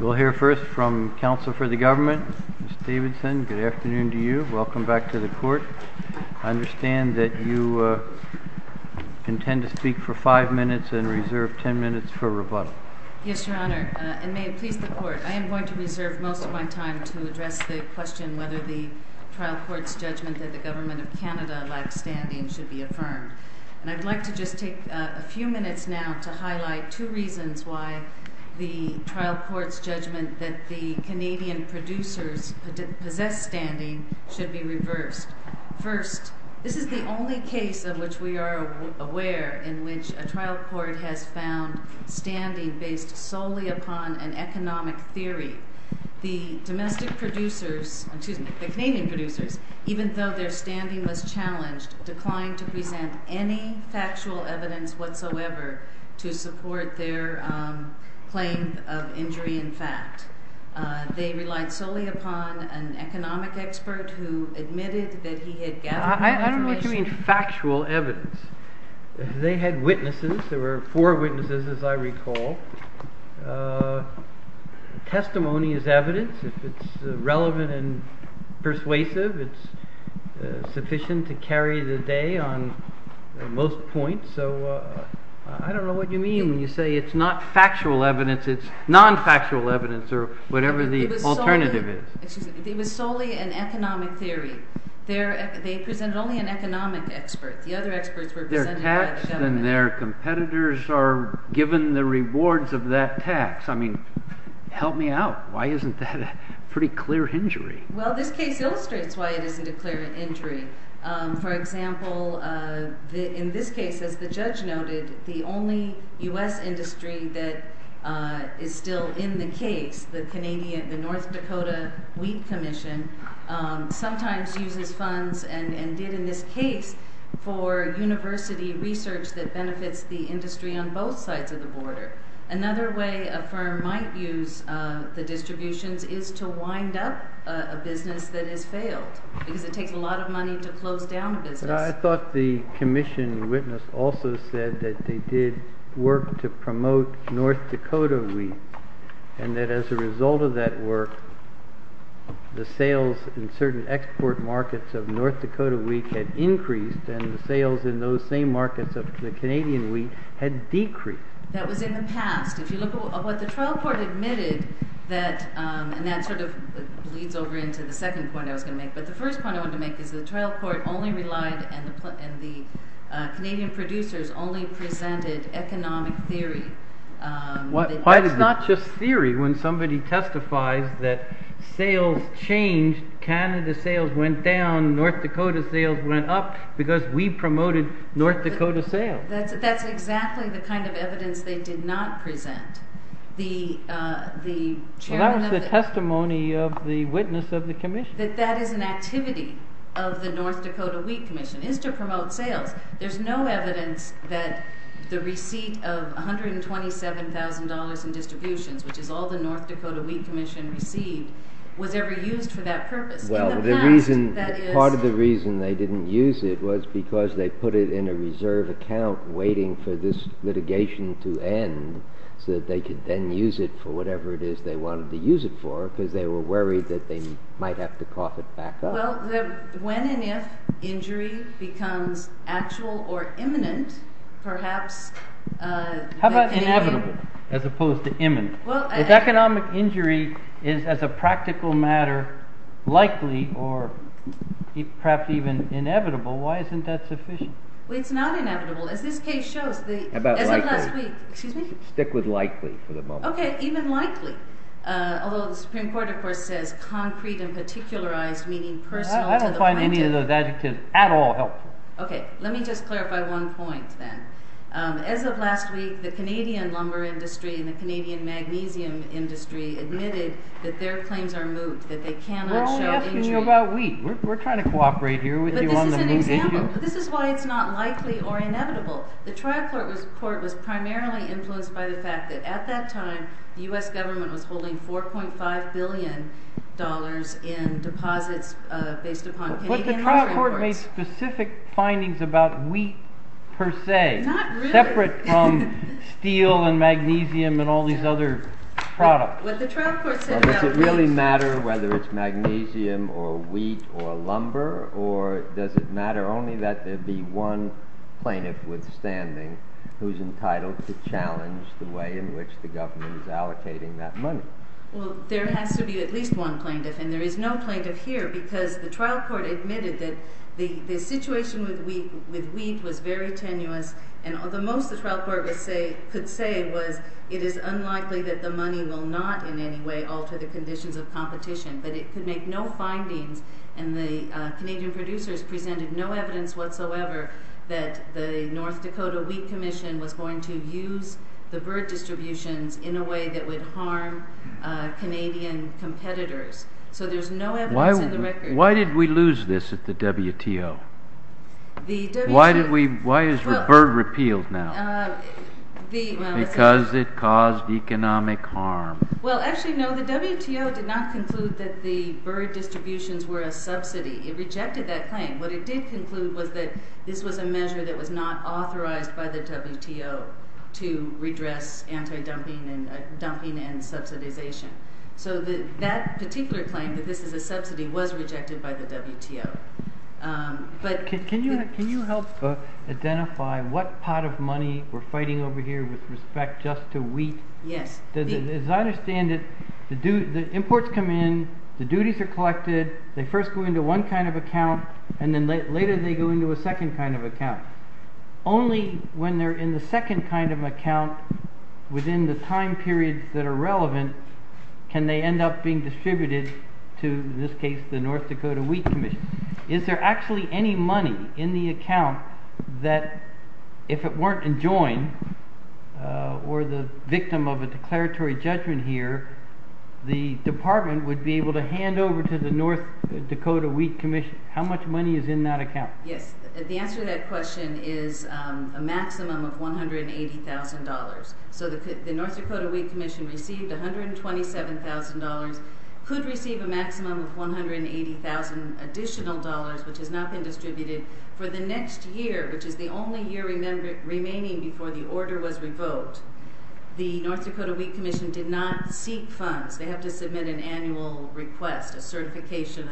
We'll hear first from counsel for the government, Ms. Davidson. Good afternoon to you. Welcome back to the court. I understand that you intend to speak for five minutes and reserve ten minutes for rebuttal. Yes, Your Honor. And may it please the court, I am going to reserve most of my time to address the question whether the trial court's judgment that the government of Canada lacks standing should be affirmed. And I'd like to just take a few minutes now to highlight two reasons why the trial court's judgment that the Canadian producers' possessed standing should be reversed. First, this is the only case in which we are aware in which a trial court has found standing based solely upon an economic theory. The Canadian producers, even though their standing was challenged, declined to present any factual evidence whatsoever to support their claims of injury in fact. They relied solely upon an economic expert who admitted that he had gathered... I don't know if you mean factual evidence. They had witnesses. There were four witnesses, as I recall. Testimony is evidence. If it's relevant and persuasive, it's sufficient to carry the day on most points. So I don't know what you mean when you say it's not factual evidence, it's non-factual evidence or whatever the alternative is. It was solely an economic theory. They present only an economic expert. Their tax and their competitors are given the rewards of that tax. I mean, help me out. Why isn't that a pretty clear injury? Well, this case illustrates why it isn't a clear injury. For example, in this case, as the judge noted, the only U.S. industry that is still in the case, the North Dakota Wheat Commission, sometimes uses funds and did in this case for university research that benefits the industry on both sides of the border. Another way a firm might use the distributions is to wind up a business that has failed because it takes a lot of money to close down a business. I thought the commission witness also said that they did work to promote North Dakota wheat and that as a result of that work, the sales in certain export markets of North Dakota wheat had increased and the sales in those same markets of the Canadian wheat had decreased. That was in the past. If you look at what the trial court admitted, and that sort of leads over into the second point I was going to make, but the first point I wanted to make is that the trial court only relied, and the Canadian producers only presented economic theory. It's not just theory. When somebody testifies that sales changed, Canada sales went down, North Dakota sales went up because wheat promoted North Dakota sales. That's exactly the kind of evidence they did not present. That was the testimony of the witness of the commission. That that is an activity of the North Dakota Wheat Commission, is to promote sales. There's no evidence that the receipt of $127,000 in distribution, which is all the North Dakota Wheat Commission received, was ever used for that purpose. Part of the reason they didn't use it was because they put it in a reserve account waiting for this litigation to end so that they could then use it for whatever it is they wanted to use it for because they were worried that they might have to cough it back up. Well, when and if injury becomes actual or imminent, perhaps... How about inevitable as opposed to imminent? If economic injury is, as a practical matter, likely or perhaps even inevitable, why isn't that sufficient? Well, it's not inevitable. As this case shows... How about likely? Excuse me? Stick with likely for the moment. Okay, even likely, although the Supreme Court, of course, says concrete and particularized, meaning... I don't find any of those adjectives at all helpful. Okay, let me just clarify one point then. As of last week, the Canadian lumber industry and the Canadian magnesium industry admitted that their claims are moot, that they cannot... We're only asking you about wheat. We're trying to cooperate here with you on the main issue. This is why it's not likely or inevitable. The trial court report was primarily influenced by the fact that, at that time, the U.S. government was holding $4.5 billion in deposits based upon Canadian lumber. But the trial court made specific findings about wheat per se. Not really. Separate from steel and magnesium and all these other products. But the trial court said that... Does it really matter whether it's magnesium or wheat or lumber, or does it matter only that there'd be one plaintiff withstanding who's entitled to challenge the way in which the government is allocating that money? Well, there has to be at least one plaintiff, and there is no plaintiff here, because the trial court admitted that the situation with wheat was very tenuous, and the most the trial court could say was, it is unlikely that the money will not in any way alter the conditions of competition. But it could make no findings, and the Canadian producers presented no evidence whatsoever that the North Dakota Wheat Commission was going to use the bird distribution in a way that would harm Canadian competitors. So there's no evidence in the record. Why did we lose this at the WTO? Why is the bird repealed now? Because it caused economic harm. Well, actually, no, the WTO did not conclude that the bird distributions were a subsidy. It rejected that claim. What it did conclude was that this was a measure that was not authorized by the WTO to redress anti-dumping and dumping and subsidization. So that particular claim, that this is a subsidy, was rejected by the WTO. Can you help identify what pot of money we're fighting over here with respect just to wheat? Yes. As I understand it, imports come in, the duties are collected, they first go into one kind of account, and then later they go into a second kind of account. Only when they're in the second kind of account, within the time periods that are relevant, can they end up being distributed to, in this case, the North Dakota Wheat Commission. Is there actually any money in the account that, if it weren't enjoined or the victim of a declaratory judgment here, the department would be able to hand over to the North Dakota Wheat Commission? How much money is in that account? Yes. The answer to that question is a maximum of $180,000. So the North Dakota Wheat Commission received $127,000, could receive a maximum of $180,000 additional, which has not been distributed for the next year, which is the only year remaining before the order was revoked. The North Dakota Wheat Commission did not seek funds. They have to submit an annual request, a certification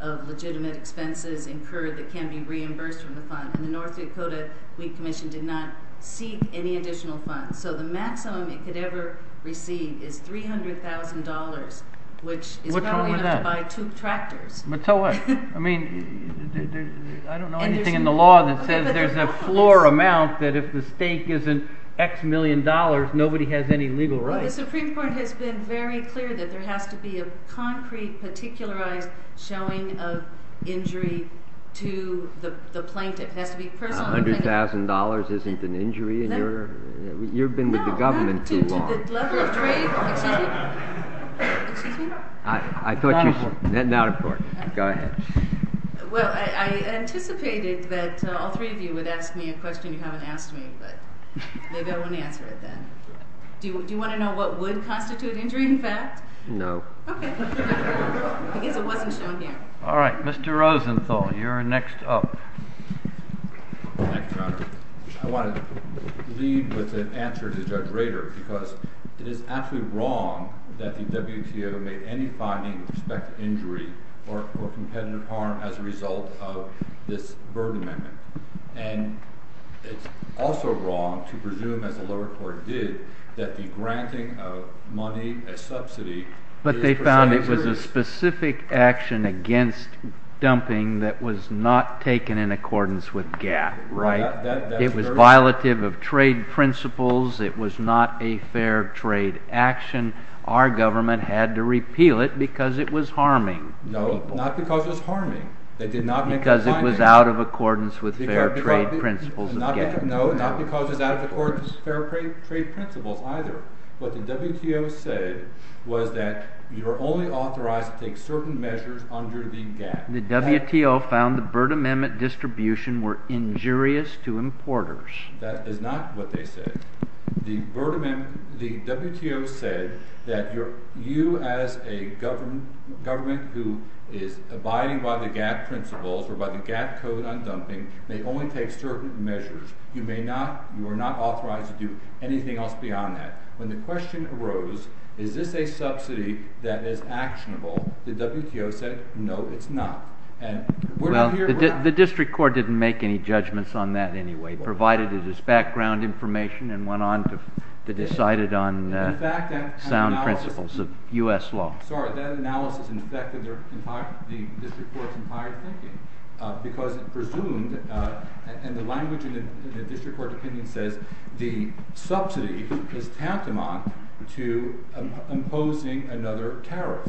of legitimate expenses incurred that can be reimbursed for the funds, and the North Dakota Wheat Commission did not seek any additional funds. So the maximum it could ever receive is $300,000, which is delivered by two tractors. So what? I mean, I don't know anything in the law that says there's a floor amount that if the stake isn't X million dollars, nobody has any legal right. The Supreme Court has been very clear that there has to be a concrete, particularized showing of injury to the plaintiff. $100,000 isn't an injury? You've been with the government too long. I thought she was getting out of court. Go ahead. Well, I anticipated that all three of you would ask me a question you haven't asked me, but they don't want to answer it then. Do you want to know what would constitute injury in fact? No. Okay. I guess it wasn't something. All right. Mr. Rosenthal, you're next up. Thank you, Your Honor. I want to lead with an answer to Judge Rader, because it is absolutely wrong that the WTO made any finding with respect to injury or competitive harm as a result of this burden amendment. And it's also wrong to presume, as the lower court did, that the granting of money as subsidy. But they found it was a specific action against dumping that was not taken in accordance with GAAP. Right. It was violative of trade principles. It was not a fair trade action. Our government had to repeal it because it was harming people. No, not because it was harming. They did not make a finding. Because it was out of accordance with fair trade principles of GAAP. No, not because it's out of accordance with fair trade principles either. What the WTO said was that you're only authorized to take certain measures under the GAAP. The WTO found the burden amendment distribution were injurious to importers. That is not what they said. The WTO said that you, as a government who is abiding by the GAAP principles or by the GAAP code on dumping, may only take certain measures. You are not authorized to do anything else beyond that. When the question arose, is this a subsidy that is actionable, the WTO said, no, it's not. And we're not here for that. Well, the district court didn't make any judgments on that anyway, provided it was background information and went on to decide it on sound principles of U.S. law. Sorry, that analysis infected the district court's entire opinion. Because it presumed, and the language in the district court's opinion says, the subsidy is tantamount to imposing another tariff.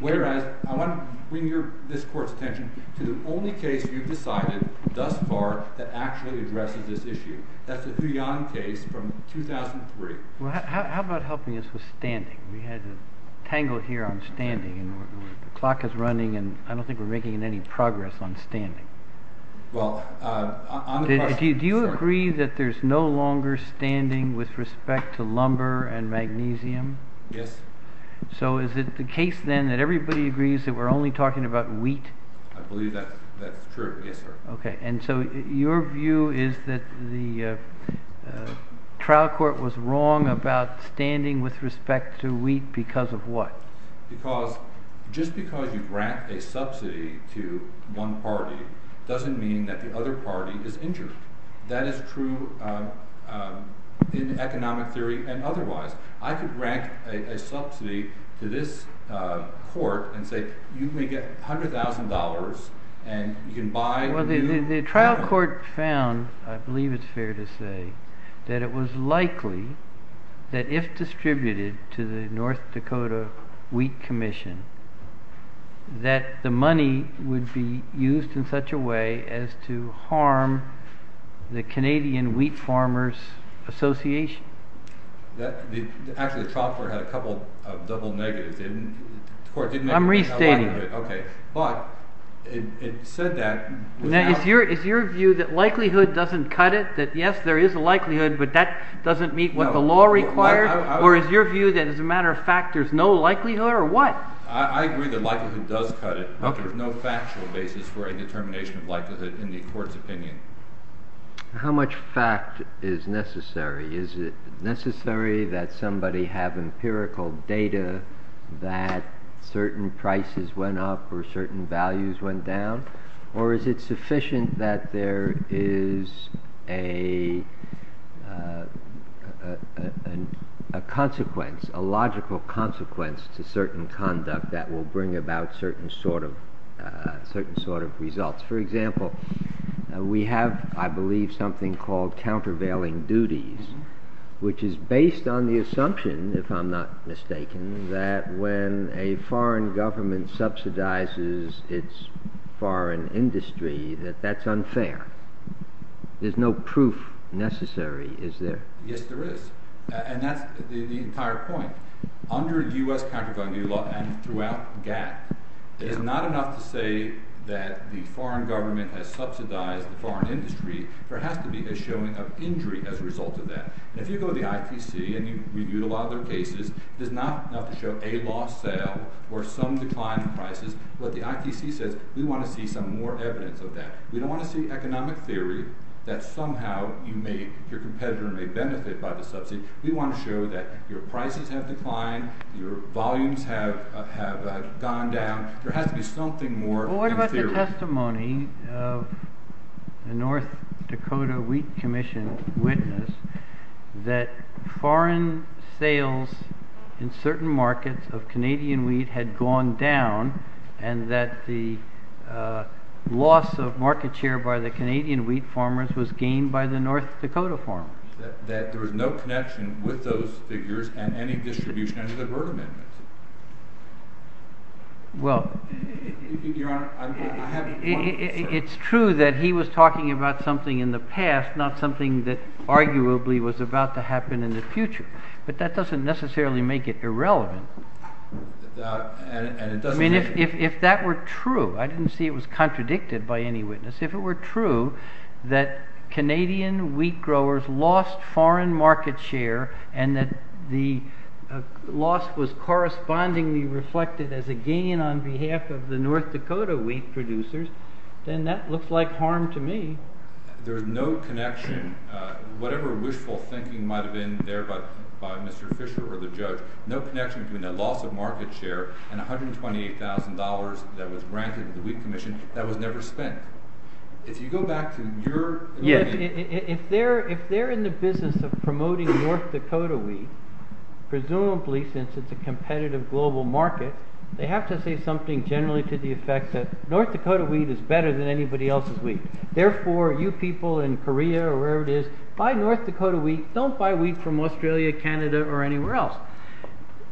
Whereas, I want to bring this court's attention to the only case you've decided thus far that actually addresses this issue. That's the Huion case from 2003. Well, how about helping us with standing? We had to tangle here on standing. The clock is running, and I don't think we're making any progress on standing. Well, I'm a part of it. Do you agree that there's no longer standing with respect to lumber and magnesium? Yes. So is it the case, then, that everybody agrees that we're only talking about wheat? I believe that's true, yes, sir. Okay. And so your view is that the trial court was wrong about standing with respect to wheat because of what? Because just because you grant a subsidy to one party doesn't mean that the other party is interested. That is true in economic theory and otherwise. I could grant a subsidy to this court and say, you may get $100,000, and you can buy— Well, the trial court found, I believe it's fair to say, that it was likely that if distributed to the North Dakota Wheat Commission, that the money would be used in such a way as to harm the Canadian Wheat Farmers Association. Actually, the trial court had a couple of double negatives. I'm restating. Okay. But it said that— Now, is your view that likelihood doesn't cut it? That, yes, there is a likelihood, but that doesn't meet what the law requires? Or is your view that, as a matter of fact, there's no likelihood, or what? I agree that likelihood does cut it, but there's no factual basis for a determination of likelihood in the court's opinion. How much fact is necessary? Is it necessary that somebody have empirical data that certain prices went up or certain values went down? Or is it sufficient that there is a consequence, a logical consequence, to certain conduct that will bring about certain sort of results? For example, we have, I believe, something called countervailing duties, which is based on the assumption, if I'm not mistaken, that when a foreign government subsidizes its foreign industry, that that's unfair. There's no proof necessary, is there? Yes, there is. And that's the entire point. Under U.S. countervailing duties law, and throughout GAAP, it is not enough to say that the foreign government has subsidized the foreign industry. There has to be a showing of injury as a result of that. And if you go to the IPC, and you've reviewed a lot of their cases, it does not have to show a lost sale or some decline in prices. But the IPC says, we want to see some more evidence of that. We don't want to see economic theory that somehow you may—your competitor may benefit by the subsidy. We want to show that your prices have declined, your volumes have gone down. There has to be something more in theory. Well, what about the testimony of the North Dakota Wheat Commission witness that foreign sales in certain markets of Canadian wheat had gone down, and that the loss of market share by the Canadian wheat farmers was gained by the North Dakota farmers? That there was no connection with those figures and any distribution of the burden. Well, it's true that he was talking about something in the past, not something that arguably was about to happen in the future. But that doesn't necessarily make it irrelevant. I mean, if that were true—I didn't see it was contradicted by any witness— if it were true that Canadian wheat growers lost foreign market share, and that the loss was correspondingly reflected as a gain on behalf of the North Dakota wheat producers, then that looks like harm to me. There is no connection, whatever wishful thinking might have been there by Mr. Fisher or the judge, no connection between the loss of market share and $128,000 that was granted to the wheat commission that was never spent. If you go back to your— Yes, if they're in the business of promoting North Dakota wheat, presumably since it's a competitive global market, they have to say something generally to the effect that North Dakota wheat is better than anybody else's wheat. Therefore, you people in Korea or wherever it is, buy North Dakota wheat. Don't buy wheat from Australia, Canada, or anywhere else.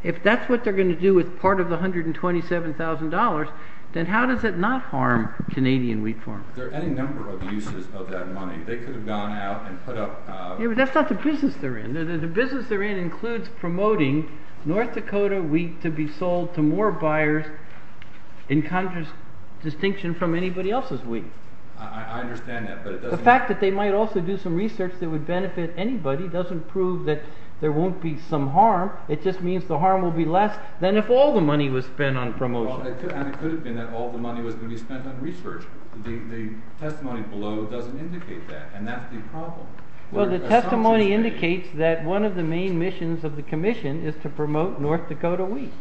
If that's what they're going to do with part of the $127,000, then how does it not harm Canadian wheat farmers? There are any number of uses of that money. They could have gone out and put up— That's not the business they're in. The business they're in includes promoting North Dakota wheat to be sold to more buyers in contrast— distinction from anybody else's wheat. I understand that, but— The fact that they might also do some research that would benefit anybody doesn't prove that there won't be some harm. It just means the harm will be less than if all the money was spent on promotion. Well, it could have been that all the money was going to be spent on research. The testimony below doesn't indicate that, and that's the problem. Well, the testimony indicates that one of the main missions of the commission is to promote North Dakota wheat.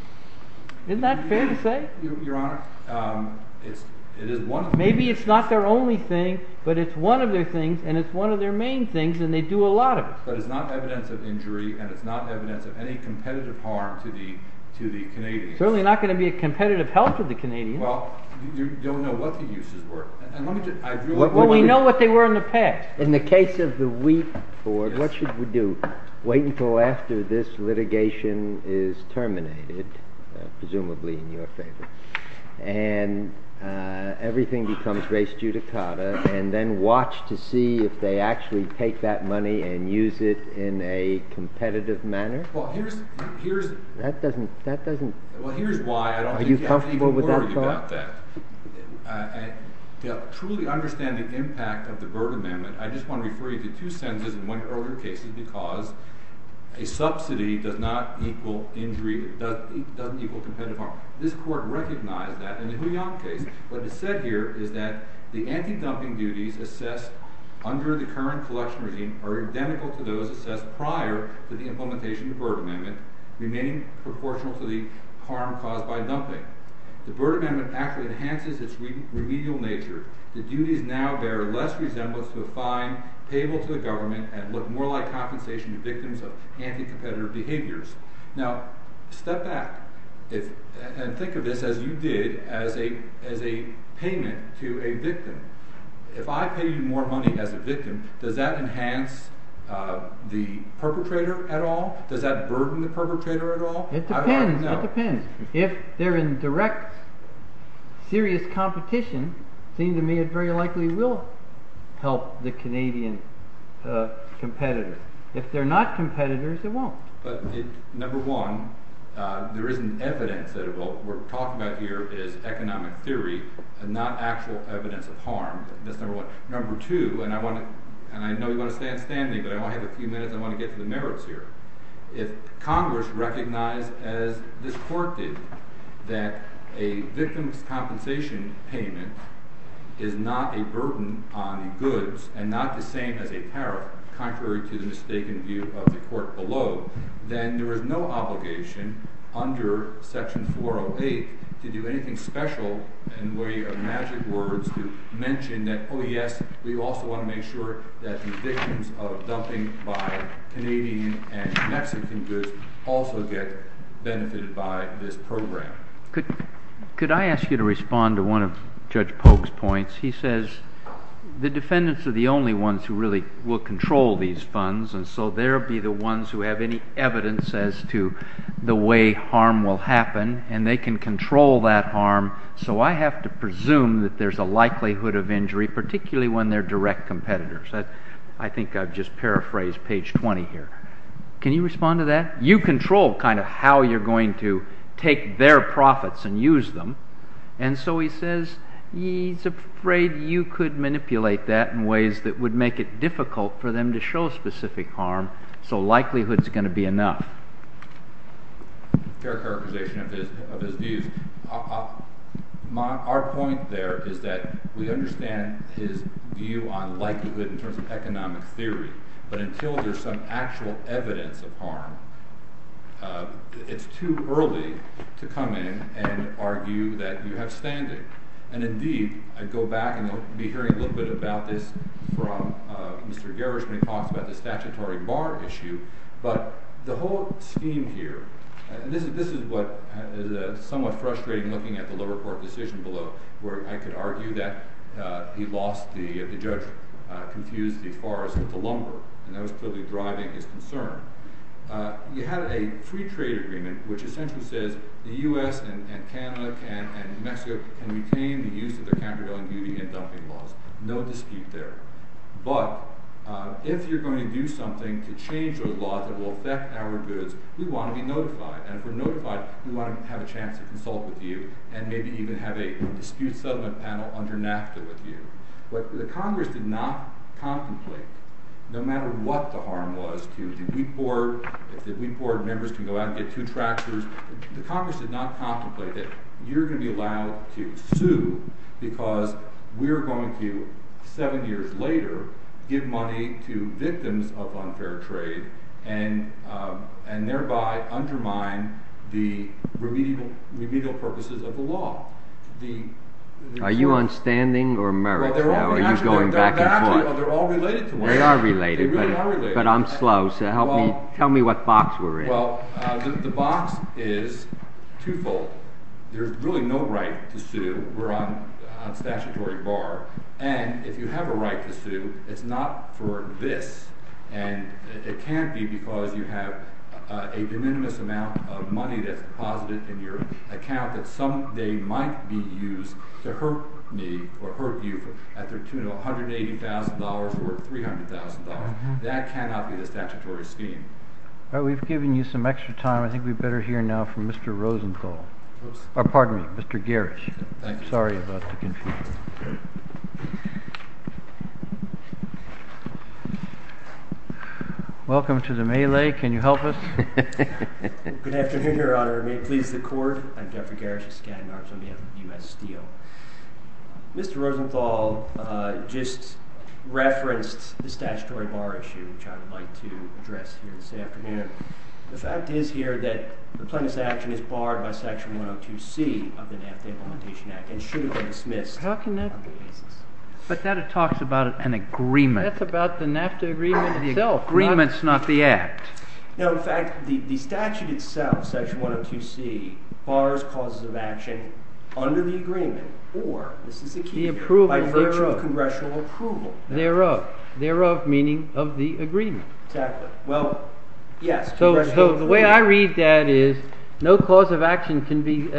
Isn't that fair to say? Your Honor, it is one— Maybe it's not their only thing, but it's one of their things, and it's one of their main things, and they do a lot of it. But it's not evidence of injury, and it's not evidence of any competitive harm to the Canadians. It's certainly not going to be a competitive help to the Canadians. Well, you don't know what the uses were. Well, we know what they were in the text. In the case of the wheat board, what should we do? Wait until after this litigation is terminated, presumably in your favor, and everything becomes race judicata, and then watch to see if they actually take that money and use it in a competitive manner? Well, here's— That doesn't— Are you comfortable with that? To truly understand the impact of the Berg Amendment, I just want to refer you to two sentences in one of your cases because a subsidy does not equal injury—doesn't equal competitive harm. This court recognized that in the Huion case. What it said here is that the anti-dumping duties assessed under the current selection regime are identical to those assessed prior to the implementation of the Berg Amendment, remaining proportional to the harm caused by dumping. The Berg Amendment actually enhances its remedial nature. The duties now bear less resemblance to the fine payable to the government and look more like compensation to victims of anti-competitive behaviors. Now, step back and think of this as you did as a payment to a victim. If I pay you more money as a victim, does that enhance the perpetrator at all? Does that burden the perpetrator at all? It depends. It depends. If they're in direct, serious competition, it seems to me it very likely will help the Canadian competitors. If they're not competitors, it won't. Number one, there isn't evidence that what we're talking about here is economic theory and not actual evidence of harm. That's number one. Number two, and I know you want to stand with me, but I want to have a few minutes. I want to get to the merits here. If Congress recognized, as this Court did, that a victim's compensation payment is not a burden on the goods and not the same as a tariff, contrary to the mistaken view of the Court below, then there is no obligation under Section 408 to do anything special in the way of magic words to mention that, oh yes, we also want to make sure that the victims of dumping by Canadian and Mexican cruisers also get benefited by this program. Could I ask you to respond to one of Judge Polk's points? He says the defendants are the only ones who really will control these funds, and so they'll be the ones who have any evidence as to the way harm will happen, and they can control that harm. So I have to presume that there's a likelihood of injury, particularly when they're direct competitors. I think I've just paraphrased page 20 here. Can you respond to that? You control kind of how you're going to take their profits and use them, and so he says he's afraid you could manipulate that in ways that would make it difficult for them to show specific harm, so likelihood's going to be enough. Characterization of his view. Our point there is that we understand his view on likelihood in terms of economic theory, but until there's some actual evidence of harm, it's too early to come in and argue that you have standards. And indeed, I go back, and you'll be hearing a little bit about this from Mr. Gerrish when he talks about the statutory bar issue, but the whole theme here, and this is somewhat frustrating looking at the lower court decision below, where I could argue that he lost, the judge confused the forest with the lumber, and that was really driving his concern. We had a pre-trade agreement which essentially says the U.S. and Canada and Mexico can retain the use of the Campbell-Ellen meeting and dumping lots. No dispute there. But if you're going to do something to change those laws that will affect our goods, we want to be notified. And if we're notified, we want to have a chance to consult with you and maybe even have a dispute settlement panel under NAFTA with you. But the Congress did not contemplate, no matter what the harm was, if we poured, if we poured, members can go out and get two tractors, the Congress did not contemplate that you're going to be allowed to sue because we're going to, seven years later, give money to victims of unfair trade and thereby undermine the remedial purposes of the law. Are you on standing or merit? They're all related. They are related, but I'm slow, so tell me what box we're in. The box is twofold. There's really no right to sue. We're on statutory bar. And if you have a right to sue, it's not for this. And it can't be because you have a de minimis amount of money that's deposited in your account that someday might be used to hurt me or hurt you at the tune of $180,000 or $300,000. That cannot be the statutory scheme. All right, we've given you some extra time. I think we'd better hear now from Mr. Rosenthal. Oh, pardon me, Mr. Garish. Sorry about the confusion. Welcome to the melee. Can you help us? Good afternoon, Your Honor. May it please the Court. I'm Jeffrey Garish, a stand-in attorney at the U.S. D.O. Mr. Rosenthal just referenced the statutory bar issue, which I would like to address here this afternoon. The fact is here that the plaintiff's action is barred by Section 102C of the NAFTA Implementation Act and shouldn't be dismissed. How can that be? But that talks about an agreement. That's about the NAFTA agreement itself. The agreement's not the act. Now, in fact, the statute itself, Section 102C, bars causes of action under the agreement or, this is the key word, by virtue of congressional approval. Thereof. Thereof meaning of the agreement. Exactly. Well, yes. So the way I read that is no cause of action can be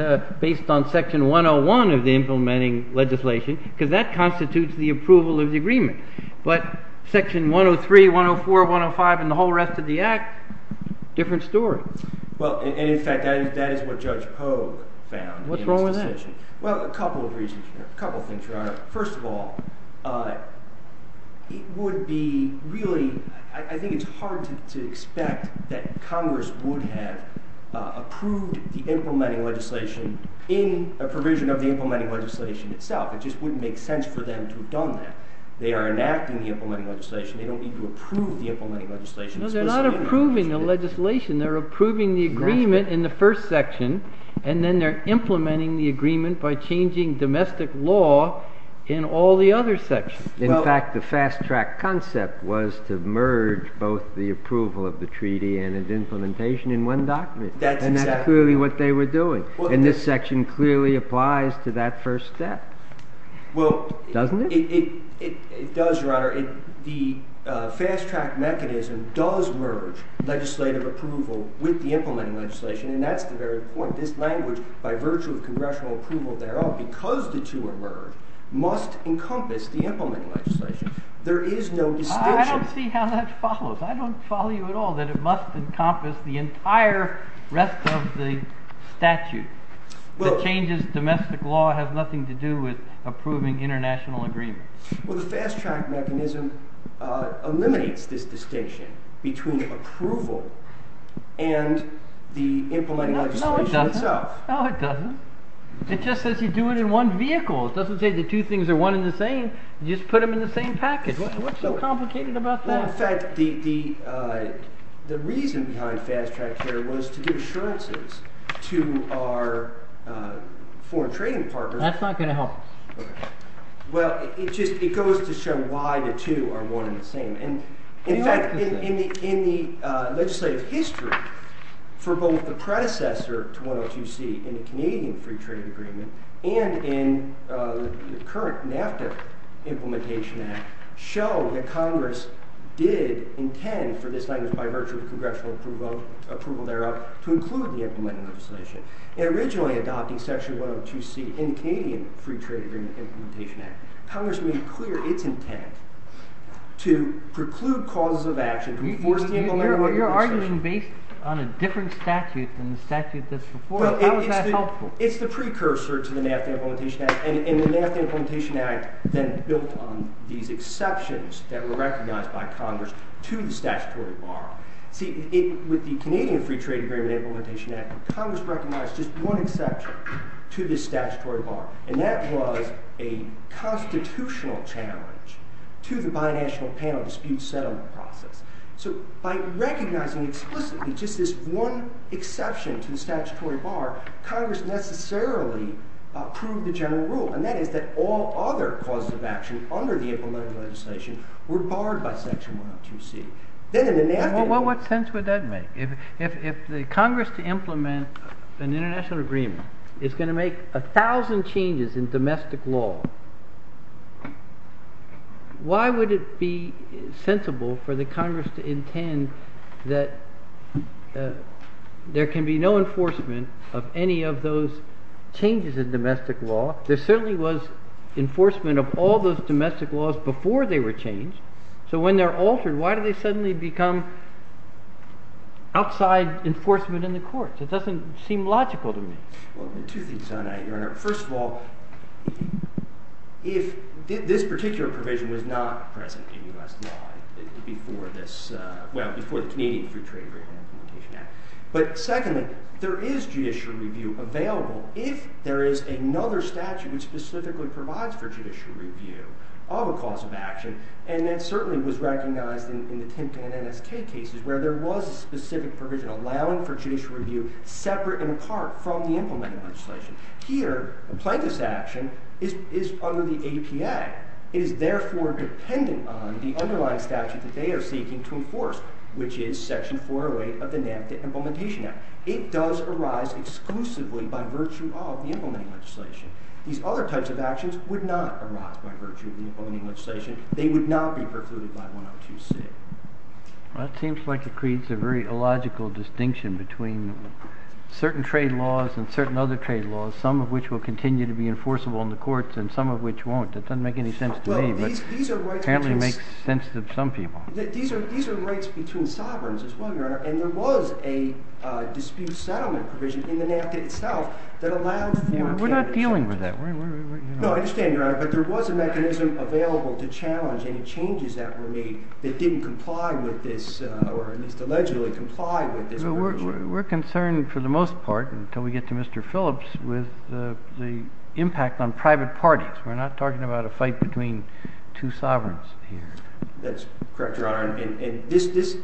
based on Section 101 of the implementing legislation because that constitutes the approval of the agreement. But Section 103, 104, 105, and the whole rest of the act, different story. Well, and, in fact, that is what Judge Pogue found. What's wrong with that? First of all, it would be really, I think it's hard to expect that Congress would have approved the implementing legislation in a provision of the implementing legislation itself. It just wouldn't make sense for them to have done that. They are enacting the implementing legislation. They don't need to approve the implementing legislation. No, they're not approving the legislation. They're approving the agreement in the first section, and then they're implementing the agreement by changing domestic law in all the other sections. In fact, the fast-track concept was to merge both the approval of the treaty and its implementation in one document. And that's clearly what they were doing. And this section clearly applies to that first step, doesn't it? Well, it does, Your Honor. The fast-track mechanism does merge legislative approval with the implementing legislation, and that's the very point. This language, by virtue of congressional approval thereof, because the two are merged, must encompass the implementing legislation. There is no distinction. I don't see how that follows. I don't follow you at all that it must encompass the entire rest of the statute. The changes to domestic law have nothing to do with approving international agreements. Well, the fast-track mechanism eliminates this distinction between approval and the implementing legislation itself. No, it doesn't. No, it doesn't. It just says you do it in one vehicle. It doesn't say the two things are one and the same. You just put them in the same package. What's so complicated about that? In fact, the reason behind fast-track there was to do assurances to our foreign trading partners. That's not going to help. Well, it goes to show why the two are one and the same. In fact, in the legislative history for both the predecessor to 102C in the Canadian Free Trade Agreement and in the current NAFTA Implementation Act show that Congress did intend for this language, by virtue of congressional approval thereof, to include the implementing legislation. They originally adopted section 102C in the Canadian Free Trade Agreement Implementation Act. Congress made clear its intent to preclude cause of action for the people therewith. You're arguing based on a different statute than the statute that's before us. How is that helpful? It's the precursor to the NAFTA Implementation Act. And the NAFTA Implementation Act then built on these exceptions that were recognized by Congress to the statutory borrow. With the Canadian Free Trade Agreement Implementation Act, Congress recognized just one exception to the statutory borrow. And that was a constitutional challenge to the binational panel dispute settlement process. So by recognizing explicitly just this one exception to the statutory borrow, Congress necessarily approved the general rule. And that is that all other causes of action under the Implementation Act were borrowed by section 102C. Well, what sense would that make? If the Congress to implement an international agreement is going to make a thousand changes in domestic law, why would it be sensible for the Congress to intend that there can be no enforcement of any of those changes in domestic law? There certainly was enforcement of all those domestic laws before they were changed. So when they're altered, why do they suddenly become outside enforcement in the courts? It doesn't seem logical to me. Well, there are two things I'd add here. First of all, this particular provision was not present in U.S. law before the Canadian Free Trade Agreement Implementation Act. But second, there is judicial review available if there is another statute that specifically provides for judicial review of a cause of action. And that certainly was recognized in the TINPAN MSK cases where there was a specific provision allowing for judicial review separate in part from the Implementation Act. Here, the plaintiff's action is under the ATA. It is therefore dependent on the underlying statute that they are seeking to enforce, which is section 408 of the NAFTA Implementation Act. It does arise exclusively by virtue of the Implementation Act. These other types of actions would not arise by virtue of the Implementation Act. They would not be precluded by 1.02c. Well, it seems like it creates a very illogical distinction between certain trade laws and certain other trade laws, some of which will continue to be enforceable in the courts and some of which won't. That doesn't make any sense to me, but apparently makes sense to some people. These are rights between sovereigns, as well, Your Honor. And there was a dispute settlement provision in the NAFTA itself that allows for that. We're not dealing with that. No, I understand, Your Honor, but there was a mechanism available to challenge any changes that were made that didn't comply with this or allegedly comply with this provision. We're concerned, for the most part, until we get to Mr. Phillips, with the impact on private parties. We're not talking about a fight between two sovereigns here. That's correct, Your Honor. And this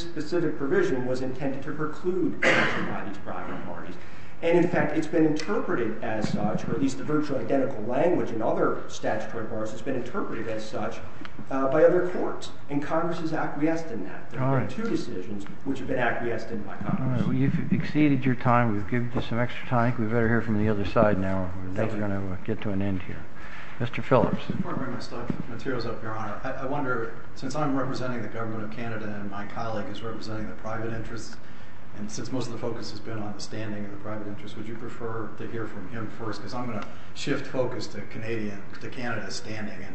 specific provision was intended to preclude private parties. And, in fact, it's been interpreted as such, or at least the virtual identical language in other statutory bars has been interpreted as such by other courts. And Congress has acquiesced in that. There have been two decisions which have been acquiesced in that. You've exceeded your time. We've given you some extra time. We'd better hear from the other side now, or we're never going to get to an end here. Mr. Phillips. Before I bring the materials up, Your Honor, I wonder, since I'm representing the government of Canada and my colleague is representing the private interest, and since most of the focus has been on the standing of the private interest, would you prefer to hear from him first? Because I'm going to shift focus to Canada's standing. It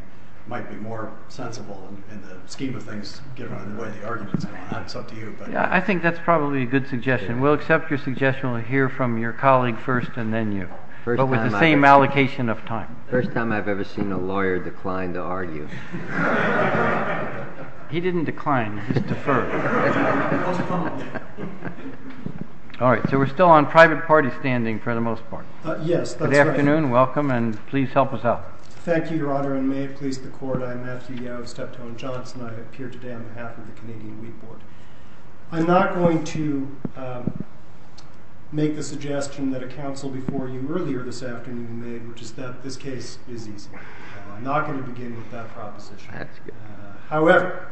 might be more sensible in the scheme of things, given the way the argument is going on. It's up to you. I think that's probably a good suggestion. We'll accept your suggestion. We'll hear from your colleague first and then you. But with the same allocation of time. First time I've ever seen a lawyer decline to argue. He didn't decline. He deferred. All right. So we're still on private party standing for the most part. Yes. Good afternoon. Welcome. And please help us out. Thank you, Your Honor. And may it please the Court, I'm Matthew Yost. I'm here today on behalf of the Canadian Law Court. I'm not going to make the suggestion that a counsel before you earlier this afternoon made, which is that this case is easy. I'm not going to begin with that proposition. However,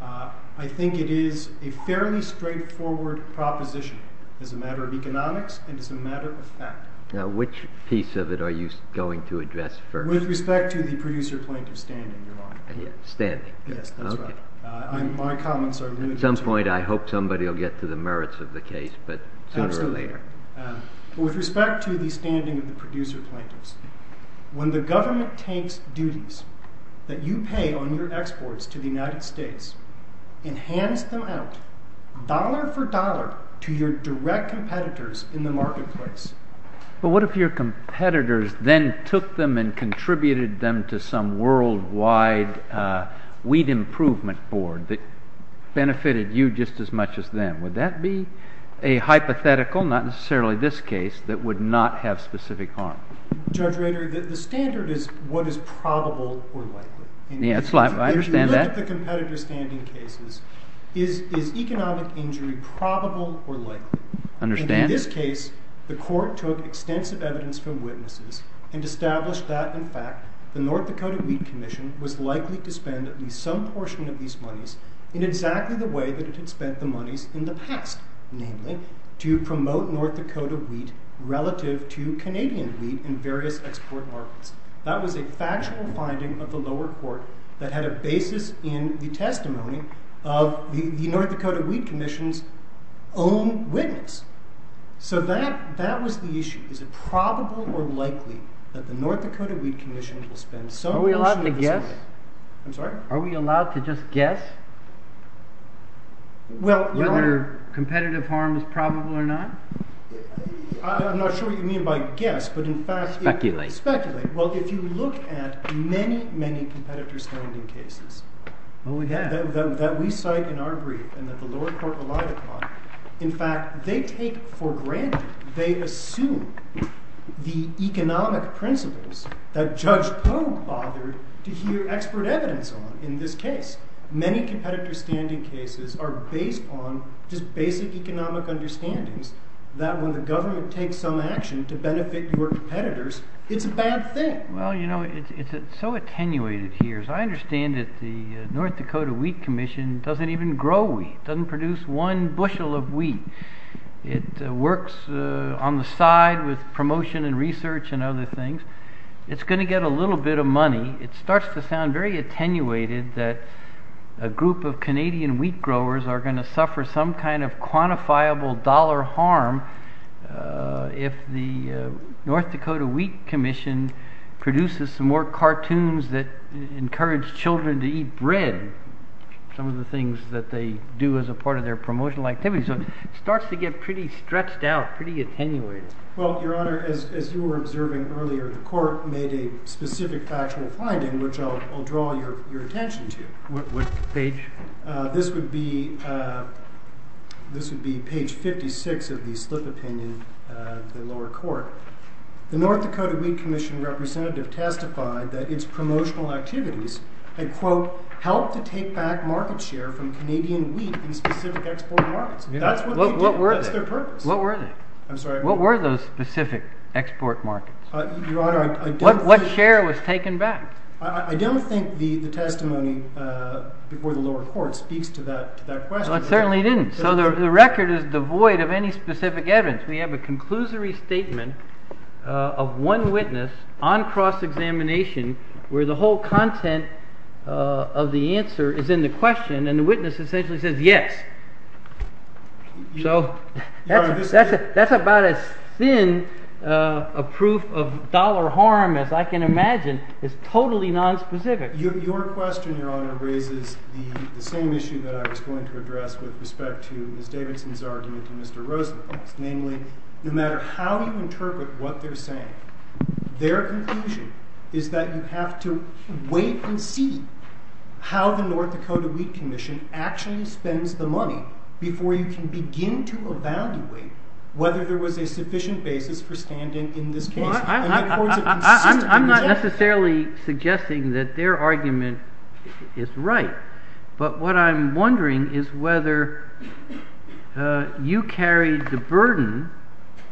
I think it is a fairly straightforward proposition as a matter of economics and as a matter of fact. Now, which piece of it are you going to address first? With respect to the producer plaintiff's standing, Your Honor. Standing. Yes, that's right. My comments are really important. At some point, I hope somebody will get to the merits of the case, but sooner or later. Absolutely. With respect to the standing of the producer plaintiffs, when the government takes duties that you pay on your exports to the United States and hands them out dollar for dollar to your direct competitors in the marketplace. But what if your competitors then took them and contributed them to some worldwide weed improvement board that benefited you just as much as them? Would that be a hypothetical, not necessarily this case, that would not have specific harm? Judge Rader, the standard is what is probable or likely. Yes, I understand that. With respect to the competitor's standing cases, is economic injury probable or likely? I understand. In this case, the court took extensive evidence from witnesses and established that, in fact, the North Dakota Weed Commission was likely to spend at least some portion of these monies in exactly the way that it had spent the monies in the past. Namely, to promote North Dakota wheat relative to Canadian wheat in various export markets. That was a factual finding of the lower court that had a basis in the testimony of the North Dakota Weed Commission's own witness. So that was the issue. Is it probable or likely that the North Dakota Weed Commission will spend so much money... Are we allowed to guess? I'm sorry? Are we allowed to just guess whether competitive harm is probable or not? I'm not sure what you mean by guess, but in fact... Speculate. Speculate. Well, if you look at many, many competitor's standing cases that we cite in our brief and that the lower court relied upon, in fact, they take for granted, they assume the economic principles that Judge Cone fathered to hear expert evidence on in this case. Many competitor's standing cases are based on just basic economic understanding that when the government takes some action to benefit your competitors, it's a bad thing. Well, you know, it's so attenuated here. I understand that the North Dakota Weed Commission doesn't even grow wheat. It doesn't produce one bushel of wheat. It works on the side with promotion and research and other things. It's going to get a little bit of money. It starts to sound very attenuated that a group of Canadian wheat growers are going to suffer some kind of quantifiable dollar harm if the North Dakota Weed Commission produces more cartoons that encourage children to eat bread, some of the things that they do as a part of their promotional activities. So it starts to get pretty stretched out, pretty attenuated. Well, Your Honor, as you were observing earlier, the court made a specific factional finding, which I'll draw your attention to. What page? This would be page 56 of the split opinion of the lower court. The North Dakota Weed Commission representative testified that its promotional activities, they quote, helped to take back market share from Canadian wheat in specific export markets. What were they? I'm sorry. What were those specific export markets? What share was taken back? I don't think the testimony before the lower court speaks to that question. It certainly didn't. So the record is devoid of any specific evidence. We have a conclusory statement of one witness on cross-examination where the whole content of the answer is in the question, and the witness essentially says yes. So that's about as thin a proof of dollar harm as I can imagine is totally nonspecific. Your question, Your Honor, raises the same issue that I was going to address with respect to Ms. Davidson's argument to Mr. Roosevelt. Namely, no matter how you interpret what they're saying, their conclusion is that you have to wait and see how the North Dakota Weed Commission actually spends the money before you can begin to evaluate whether there was a sufficient basis for standing in this case. I'm not necessarily suggesting that their argument is right, but what I'm wondering is whether you carry the burden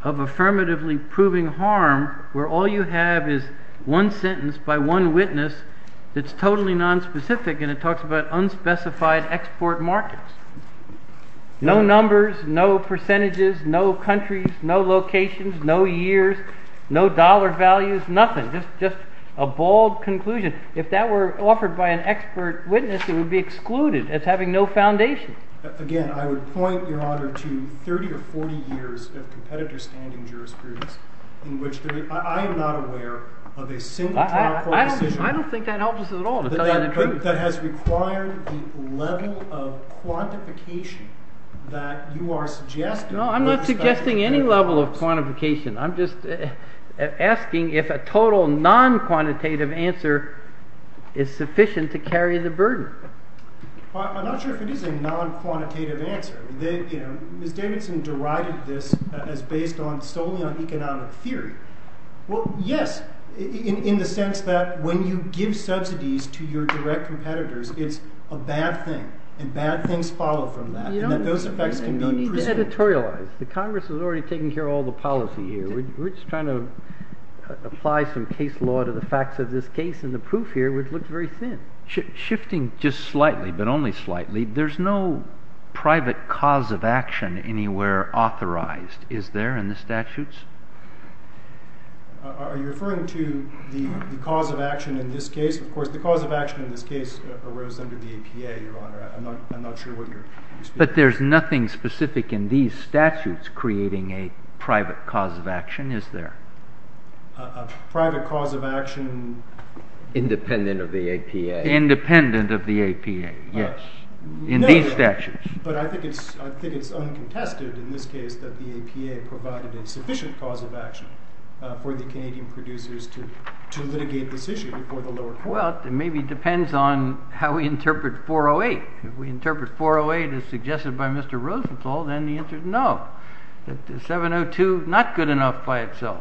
of affirmatively proving harm where all you have is one sentence by one witness that's totally nonspecific, and it talks about unspecified export markets. No numbers, no percentages, no countries, no locations, no years, no dollar values, nothing. Just a bald conclusion. If that were offered by an expert witness, it would be excluded as having no foundation. Again, I would point, Your Honor, to 30 or 40 years of competitive standing jurisprudence in which I am not aware of a single- I don't think that helps us at all. That has required the level of quantification that you are suggesting. No, I'm not suggesting any level of quantification. I'm just asking if a total non-quantitative answer is sufficient to carry the burden. I'm not sure if it is a non-quantitative answer. Ms. Davidson derives this as based solely on economic theory. Well, yes, in the sense that when you give subsidies to your direct competitors, it's a bad thing, and bad things follow from that. You need to editorialize. The Congress has already taken care of all the policy here. We're just trying to apply some case law to the facts of this case, and the proof here looks very thin. Shifting just slightly, but only slightly, there's no private cause of action anywhere authorized, is there, in the statutes? Are you referring to the cause of action in this case? Of course, the cause of action in this case arose under the APA, Your Honor. I'm not sure what you're- But there's nothing specific in these statutes creating a private cause of action, is there? A private cause of action- Independent of the APA. Independent of the APA, yes, in these statutes. But I think it's uncontested in this case that the APA provided a sufficient cause of action for the Canadian producers to litigate this issue before the lower court. Well, it maybe depends on how we interpret 408. If we interpret 408 as suggested by Mr. Rosenthal, then the answer is no. 702 is not good enough by itself.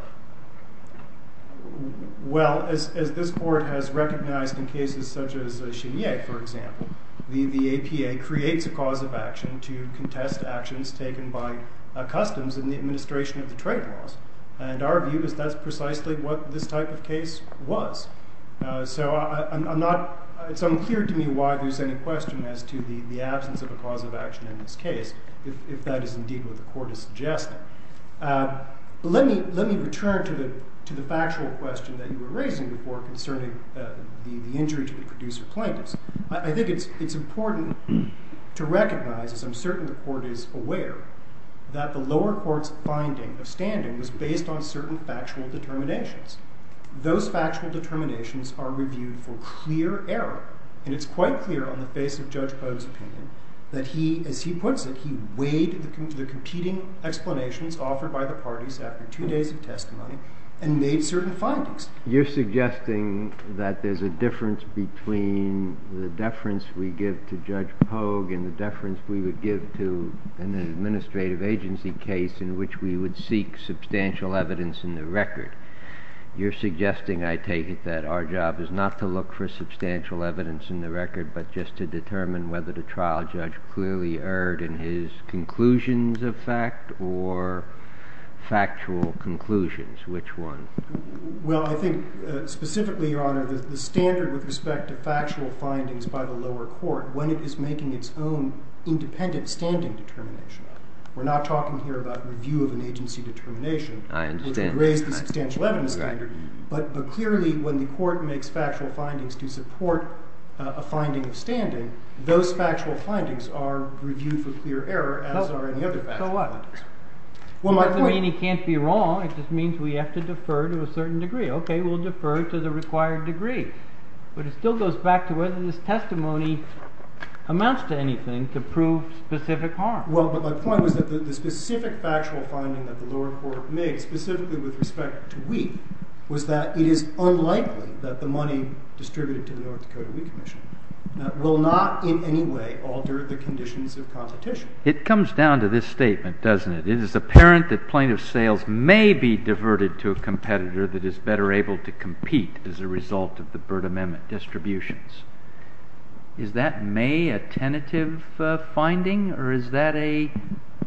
Well, as this court has recognized in cases such as Cheyenne, for example, the APA creates a cause of action to contest actions taken by customs in the administration of the trade laws. And our view is that's precisely what this type of case was. So it's unclear to me why there's any question as to the absence of a cause of action in this case, if that is indeed what the court is suggesting. Let me return to the factual question that you were raising before concerning the injuries of the producer plaintiffs. I think it's important to recognize, as I'm certain the court is aware, that the lower court's finding or standing was based on certain factual determinations. Those factual determinations are reviewed for clear error. And it's quite clear on the basis of Judge Pogue's opinion that he, as he puts it, he weighed the competing explanations offered by the parties after two days of testimony and made certain findings. You're suggesting that there's a difference between the deference we give to Judge Pogue and the deference we would give to an administrative agency case in which we would seek substantial evidence in the record. You're suggesting, I take it, that our job is not to look for substantial evidence in the record but just to determine whether the trial judge clearly erred in his conclusions of fact or factual conclusions. Which one? Well, I think specifically, Your Honor, the standard with respect to factual findings by the lower court when it is making its own independent standing determination. We're not talking here about the view of an agency determination. I understand. But clearly, when the court makes factual findings to support a finding of standing, those factual findings are reviewed for clear error, as are administrative findings. So what? Well, my point— It doesn't mean he can't be wrong. It just means we have to defer to a certain degree. Okay, we'll defer to the required degree. But it still goes back to whether this testimony amounts to anything to prove specific harm. Well, but my point was that the specific factual finding that the lower court made specifically with respect to Wheat was that it is unlikely that the money distributed to the North Dakota Wheat Commission will not in any way alter the conditions of competition. It comes down to this statement, doesn't it? It is apparent that plaintiff's sales may be diverted to a competitor that is better able to compete as a result of the Byrd Amendment distributions. Is that, may, a tentative finding, or is that a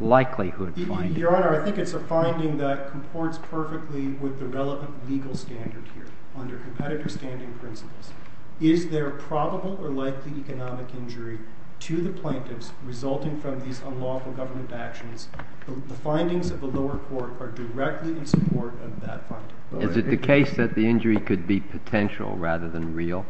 likelihood finding? Your Honor, I think it's a finding that comports perfectly with the relevant legal standards here, under competitor standing principles. Is there probable or likely economic injury to the plaintiffs resulting from these unlawful government actions? The findings of the lower court are directly in support of that finding. Is it the case that the injury could be potential rather than real?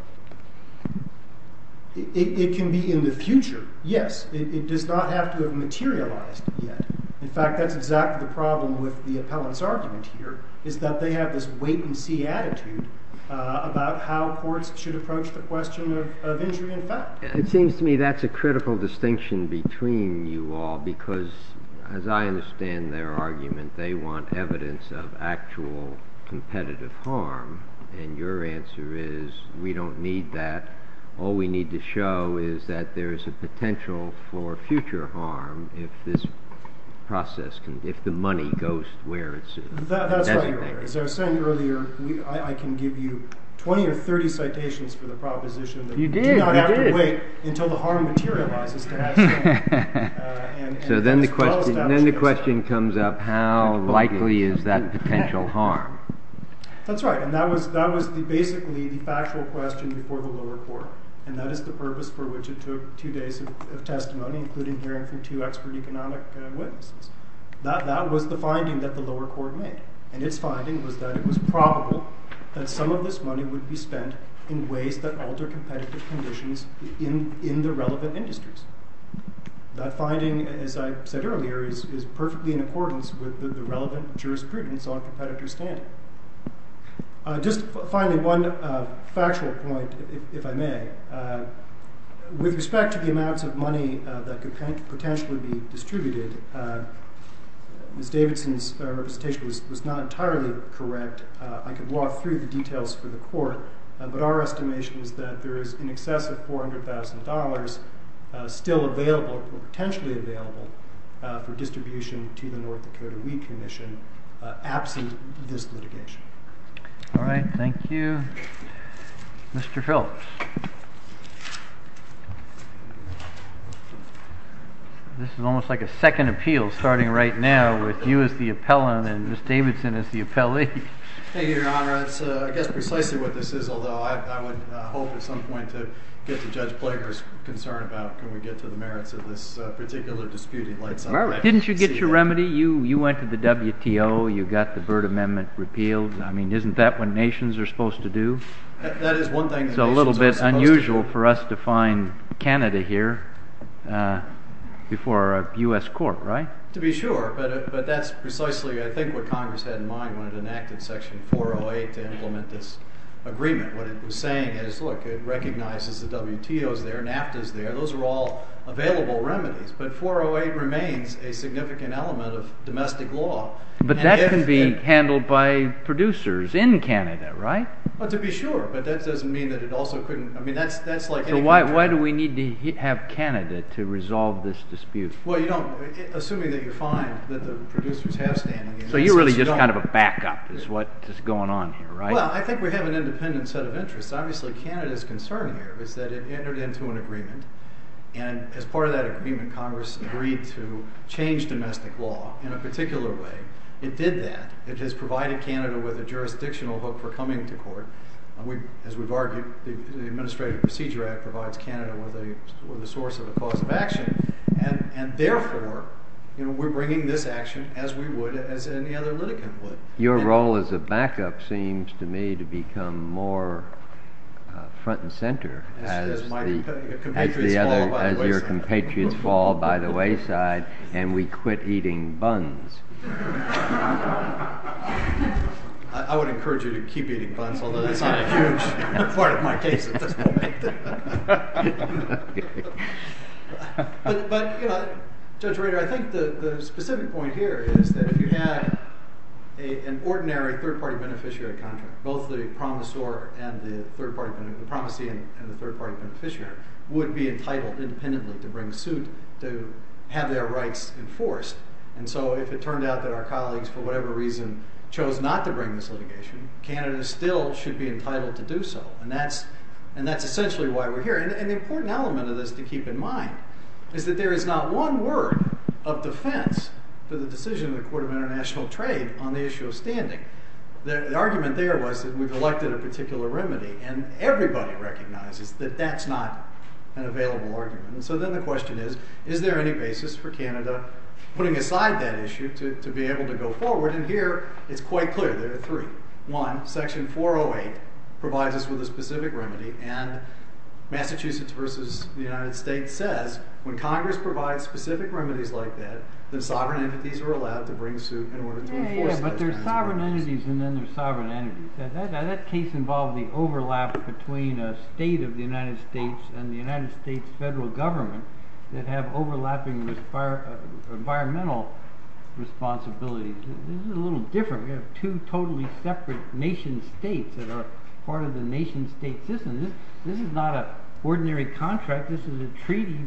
It can be in the future, yes. It does not have to have materialized yet. In fact, that's exactly the problem with the appellant's argument here, is that they have this wait-and-see attitude about how courts should approach the question of injury in fact. It seems to me that's a critical distinction between you all because, as I understand their argument, they want evidence of actual competitive harm. And your answer is, we don't need that. All we need to show is that there is a potential for future harm if this process, if the money goes where it should. That's right. As I was saying earlier, I can give you 20 or 30 citations for the proposition. You did. We have to wait until the harm materializes. So then the question comes up, how likely is that potential harm? That's right. And that was basically the factual question before the lower court. And that is the purpose for which it took two days of testimony, including hearing for two extra economic witnesses. That was the finding that the lower court made. And its finding was that it was probable that some of this money would be spent in ways that alter competitive conditions in the relevant industries. That finding, as I said earlier, is perfectly in accordance with the relevant jurisprudence on competitive standing. Just finally, one factual point, if I may. With respect to the amounts of money that could potentially be distributed, Ms. Davidson's presentation was not entirely correct. I could walk through the details for the court. But our estimation is that there is in excess of $400,000 still available or potentially available for distribution to the North Dakota Wheat Commission absent this litigation. All right. Thank you. Mr. Phillips. This is almost like a second appeal starting right now with you as the appellant and Ms. Davidson as the appellee. Thank you, Your Honor. I guess precisely what this is, although I would hope at some point to get to Judge Ploeger's concern about can we get to the merits of this particular disputed case. Didn't you get your remedy? You went to the WTO. You got the Byrd Amendment repealed. I mean, isn't that what nations are supposed to do? That is one thing. It's a little bit unusual for us to find Canada here before a U.S. court, right? To be sure. But that's precisely, I think, what Congress had in mind when it enacted Section 408 to implement this agreement. What it was saying is, look, it recognizes the WTO is there, NAFTA is there. Those are all available remedies. But 408 remains a significant element of domestic law. But that can be handled by producers in Canada, right? To be sure. But that doesn't mean that it also couldn't. So why do we need to have Canada to resolve this dispute? Well, assuming that you find that the producers have standing. So you're really just kind of a backup is what is going on here, right? Well, I think we have an independent set of interests. Obviously, Canada's concern here is that it entered into an agreement. And as part of that agreement, Congress agreed to change domestic law in a particular way. It did that. It has provided Canada with a jurisdictional hook for coming to court. As we've argued, the Administrative Procedure Act provides Canada with a source of a cause of action. And therefore, we're bringing this action as we would as any other litigant would. Your role as a backup seems to me to become more front and center. As your compatriots fall by the wayside and we quit eating buns. I would encourage you to keep eating buns, although that's not a part of my case. But Judge Reagor, I think the specific point here is that if you had an ordinary third-party beneficiary contract, both the promissory and the third-party beneficiary would be entitled independently to have their rights enforced. And so if it turned out that our colleagues for whatever reason chose not to bring this litigation, Canada still should be entitled to do so. And that's essentially why we're here. And the important element of this to keep in mind is that there is not one word of defense for the decision of the Court of International Trade on the issue of standing. The argument there was that we've elected a particular remedy. And everybody recognizes that that's not an available argument. So then the question is, is there any basis for Canada putting aside that issue to be able to go forward? And here, it's quite clear that it's true. One, Section 408 provides us with a specific remedy. And Massachusetts versus the United States says when Congress provides specific remedies like that, But there's sovereign entities, and then there's sovereign entities. Now, that case involved the overlap between a state of the United States and the United States federal government that have overlapping environmental responsibilities. This is a little different. You have two totally separate nation states that are part of the nation state system. This is not an ordinary contract. This is a treaty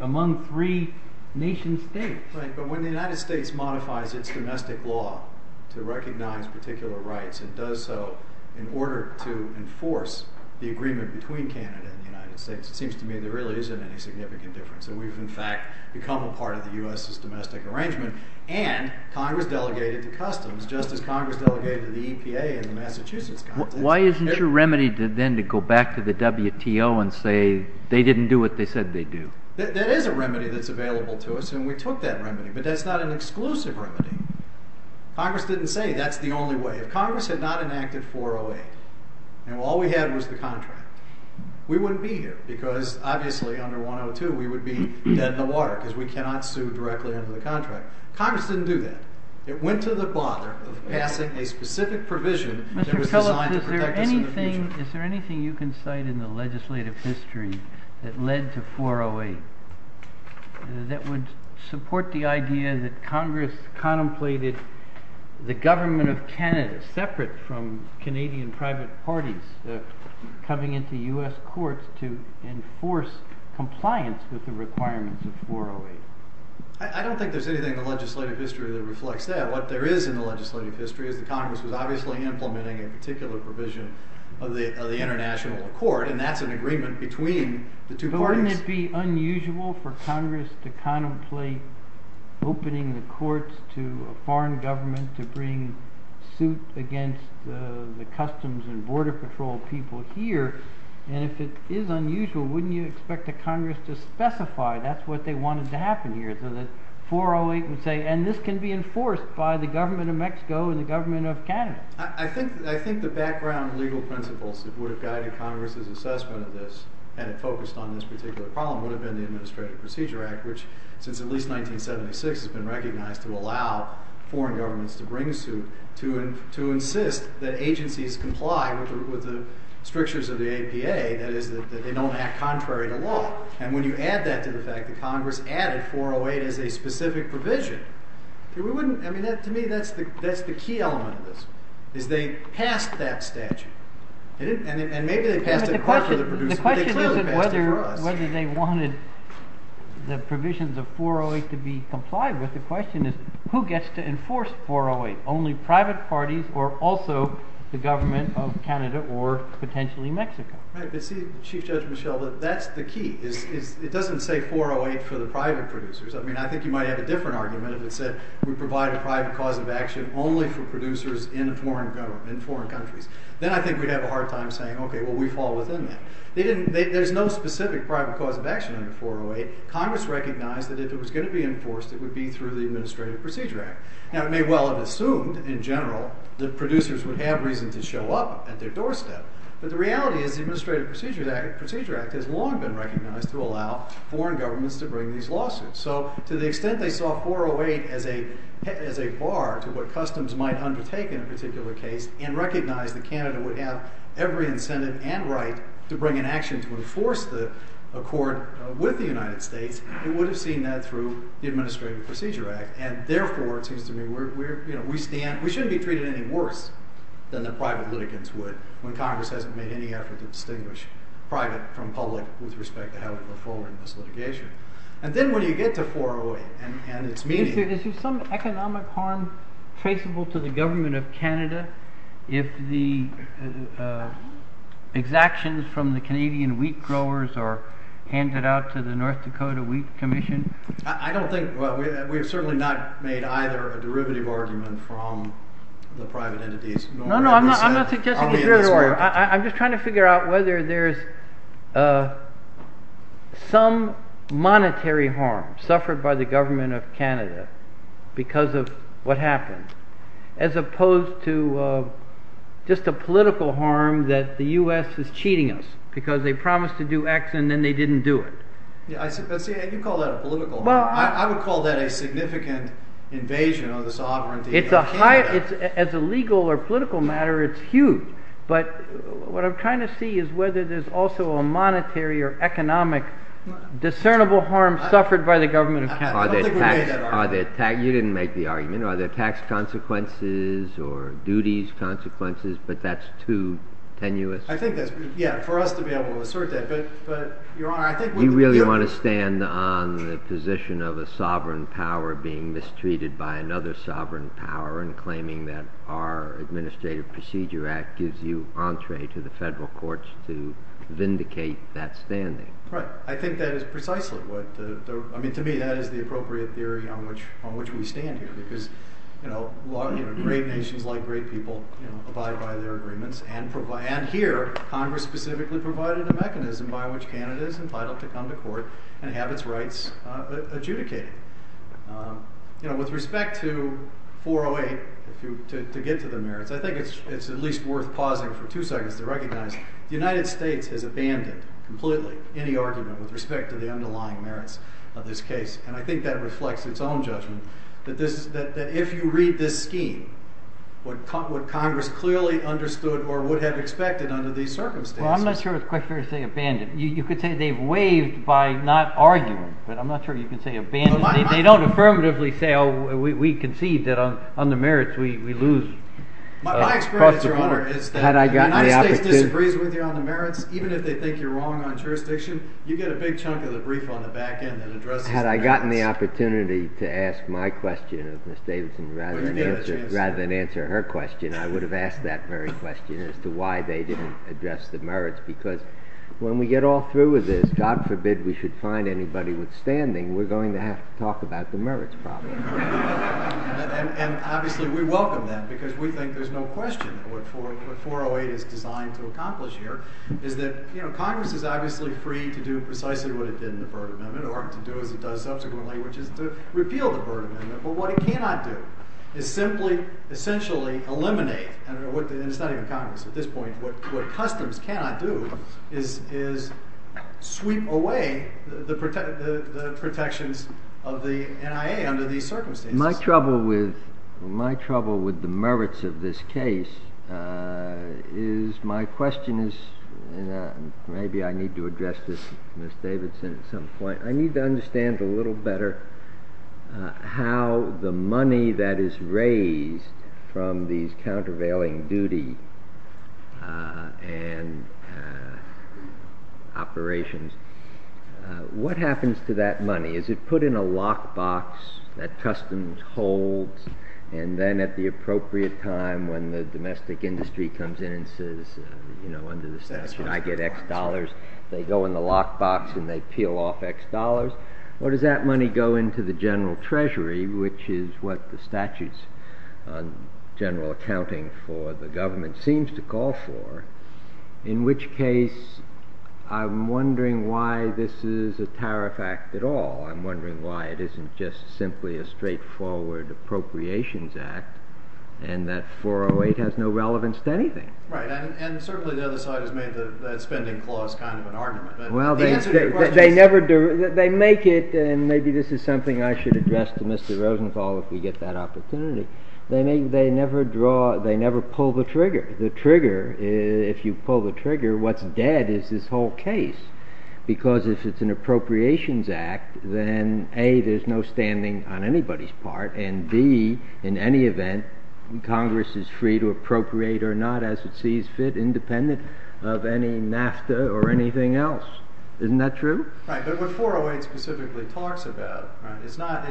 among three nation states. But when the United States modifies its domestic law to recognize particular rights and does so in order to enforce the agreement between Canada and the United States, it seems to me there really isn't any significant difference. So we've, in fact, become a part of the U.S.'s domestic arrangement. And Congress delegated the customs, just as Congress delegated the EPA in the Massachusetts. Why isn't your remedy then to go back to the WTO and say they didn't do what they said they'd do? That is a remedy that's available to us, and we took that remedy. But that's not an exclusive remedy. Congress didn't say that's the only way. If Congress had not enacted 408 and all we had was the contract, we wouldn't be here because, obviously, under 102, we would be dead in the water because we cannot sue directly under the contract. Congress didn't do that. It went to the bottom of passing a specific provision. Mr. Tillich, is there anything you can cite in the legislative history that led to 408 that would support the idea that Congress contemplated the government of Canada separate from Canadian private parties coming into U.S. courts to enforce compliance with the requirements of 408? I don't think there's anything in the legislative history that reflects that. What there is in the legislative history is that Congress is obviously implementing a particular provision of the international court, and that's an agreement between the two parties. Wouldn't it be unusual for Congress to contemplate opening the courts to a foreign government to bring suit against the Customs and Border Patrol people here? And if it is unusual, wouldn't you expect the Congress to specify that's what they wanted to happen here? So that 408 would say, and this can be enforced by the government of Mexico and the government of Canada. I think the background legal principles that would have guided Congress's assessment of this and focused on this particular problem would have been the Administrative Procedure Act, which since at least 1976 has been recognized to allow foreign governments to bring suit to insist that agencies comply with the strictures of the APA, that is, that they don't act contrary to law. And when you add that to the fact that Congress added 408 as a specific provision, to me, that's the key element of this. Is they passed that statute. And maybe they passed it for the producers, but they clearly passed it for us. But the question isn't whether they wanted the provisions of 408 to be complied with. The question is, who gets to enforce 408? Only private parties or also the government of Canada or potentially Mexico? Chief Judge Michel, that's the key. It doesn't say 408 for the private producers. I mean, I think you might have a different argument if it said we provide a private cause of action only for producers in foreign countries. Then I think we'd have a hard time saying, OK, well, we fall within that. There's no specific private cause of action under 408. Congress recognized that if it was going to be enforced, it would be through the Administrative Procedure Act. Now, it may well have assumed in general that producers would have reason to show up at their doorstep. But the reality is the Administrative Procedure Act has long been recognized to allow foreign governments to bring these lawsuits. So to the extent they saw 408 as a bar to what customs might undertake in a particular case and recognized that Canada would have every incentive and right to bring an action to enforce the court with the United States, it would have seen that through the Administrative Procedure Act. And therefore, it seems to me we shouldn't be treated any worse than the private litigants would when Congress hasn't been hinting at a distinguished private from public with respect to how to perform this litigation. And then when you get to 408 and its meaning... Is there some economic harm traceable to the government of Canada if the exactions from the Canadian wheat growers are handed out to the North Dakota Wheat Commission? I don't think... we have certainly not made either a derivative argument from the private entities. No, no, I'm not suggesting a derivative argument. I'm just trying to figure out whether there's some monetary harm suffered by the government of Canada because of what happened as opposed to just a political harm that the U.S. is cheating us because they promised to do X and then they didn't do it. I do call that a political harm. I would call that a significant invasion of this authority. As a legal or political matter, it's huge. But what I'm trying to see is whether there's also a monetary or economic discernible harm suffered by the government of Canada. You didn't make the argument. Are there tax consequences or duties consequences? But that's too tenuous. I think that's... yeah, for us to be able to assert that. Do you really want to stand on the position of a sovereign power being mistreated by another sovereign power and claiming that our Administrative Procedure Act gives you entree to the federal courts to vindicate that standing? Right. I think that is precisely what... I mean, to me, that is the appropriate theory on which we stand here because a lot of great nations, a lot of great people abide by their agreements and provide... and by which Canada is entitled to come to court and have its rights adjudicated. With respect to 408, to get to the merits, I think it's at least worth pausing for two seconds to recognize the United States has abandoned completely any argument with respect to the underlying merits of this case. And I think that reflects its own judgment that if you read this scheme, what Congress clearly understood or would have expected under these circumstances... Well, I'm not sure it's quite fair to say abandoned. You could say they've waived by not arguing, but I'm not sure you can say abandoned. They don't affirmatively say, oh, we concede that on the merits we lose... Had I gotten the opportunity to ask my question of Ms. Davidson rather than answer her question, I would have asked that very question as to why they didn't address the merits because when we get all through with this, God forbid we should find anybody withstanding, we're going to have to talk about the merits probably. And obviously we welcome that because we think there's no question of what 408 is designed to accomplish here. Congress is obviously free to do precisely what it did in the burden amendment or to do as it does subsequently, which is to repeal the burden amendment. But what it cannot do is simply essentially eliminate, and I don't know what they're deciding in Congress at this point, what Customs cannot do is sweep away the protections of the NIA under these circumstances. My trouble with the merits of this case is my question is, and maybe I need to address this with Ms. Davidson at some point, I need to understand a little better how the money that is raised from these countervailing duty and operations, what happens to that money? Is it put in a lockbox that Customs holds and then at the appropriate time when the domestic industry comes in and says, you know, under the statute I get X dollars, they go in the lockbox and they peel off X dollars? Or does that money go into the general treasury, which is what the statute's general accounting for the government seems to call for, in which case I'm wondering why this is a tariff act at all. I'm wondering why it isn't just simply a straightforward appropriations act and that 408 has no relevance to anything. Right, and certainly the other side has made the spending clause kind of an argument. Well, they never do. They make it, and maybe this is something I should address to Mr. Rosenthal if we get that opportunity. They never pull the trigger. The trigger, if you pull the trigger, what's dead is this whole case because if it's an appropriations act, then A, there's no standing on anybody's part, and B, in any event, Congress is free to appropriate or not as it sees fit, independent of any NAFTA or anything else. Isn't that true? Right, but what 408 specifically talks about, right, it's not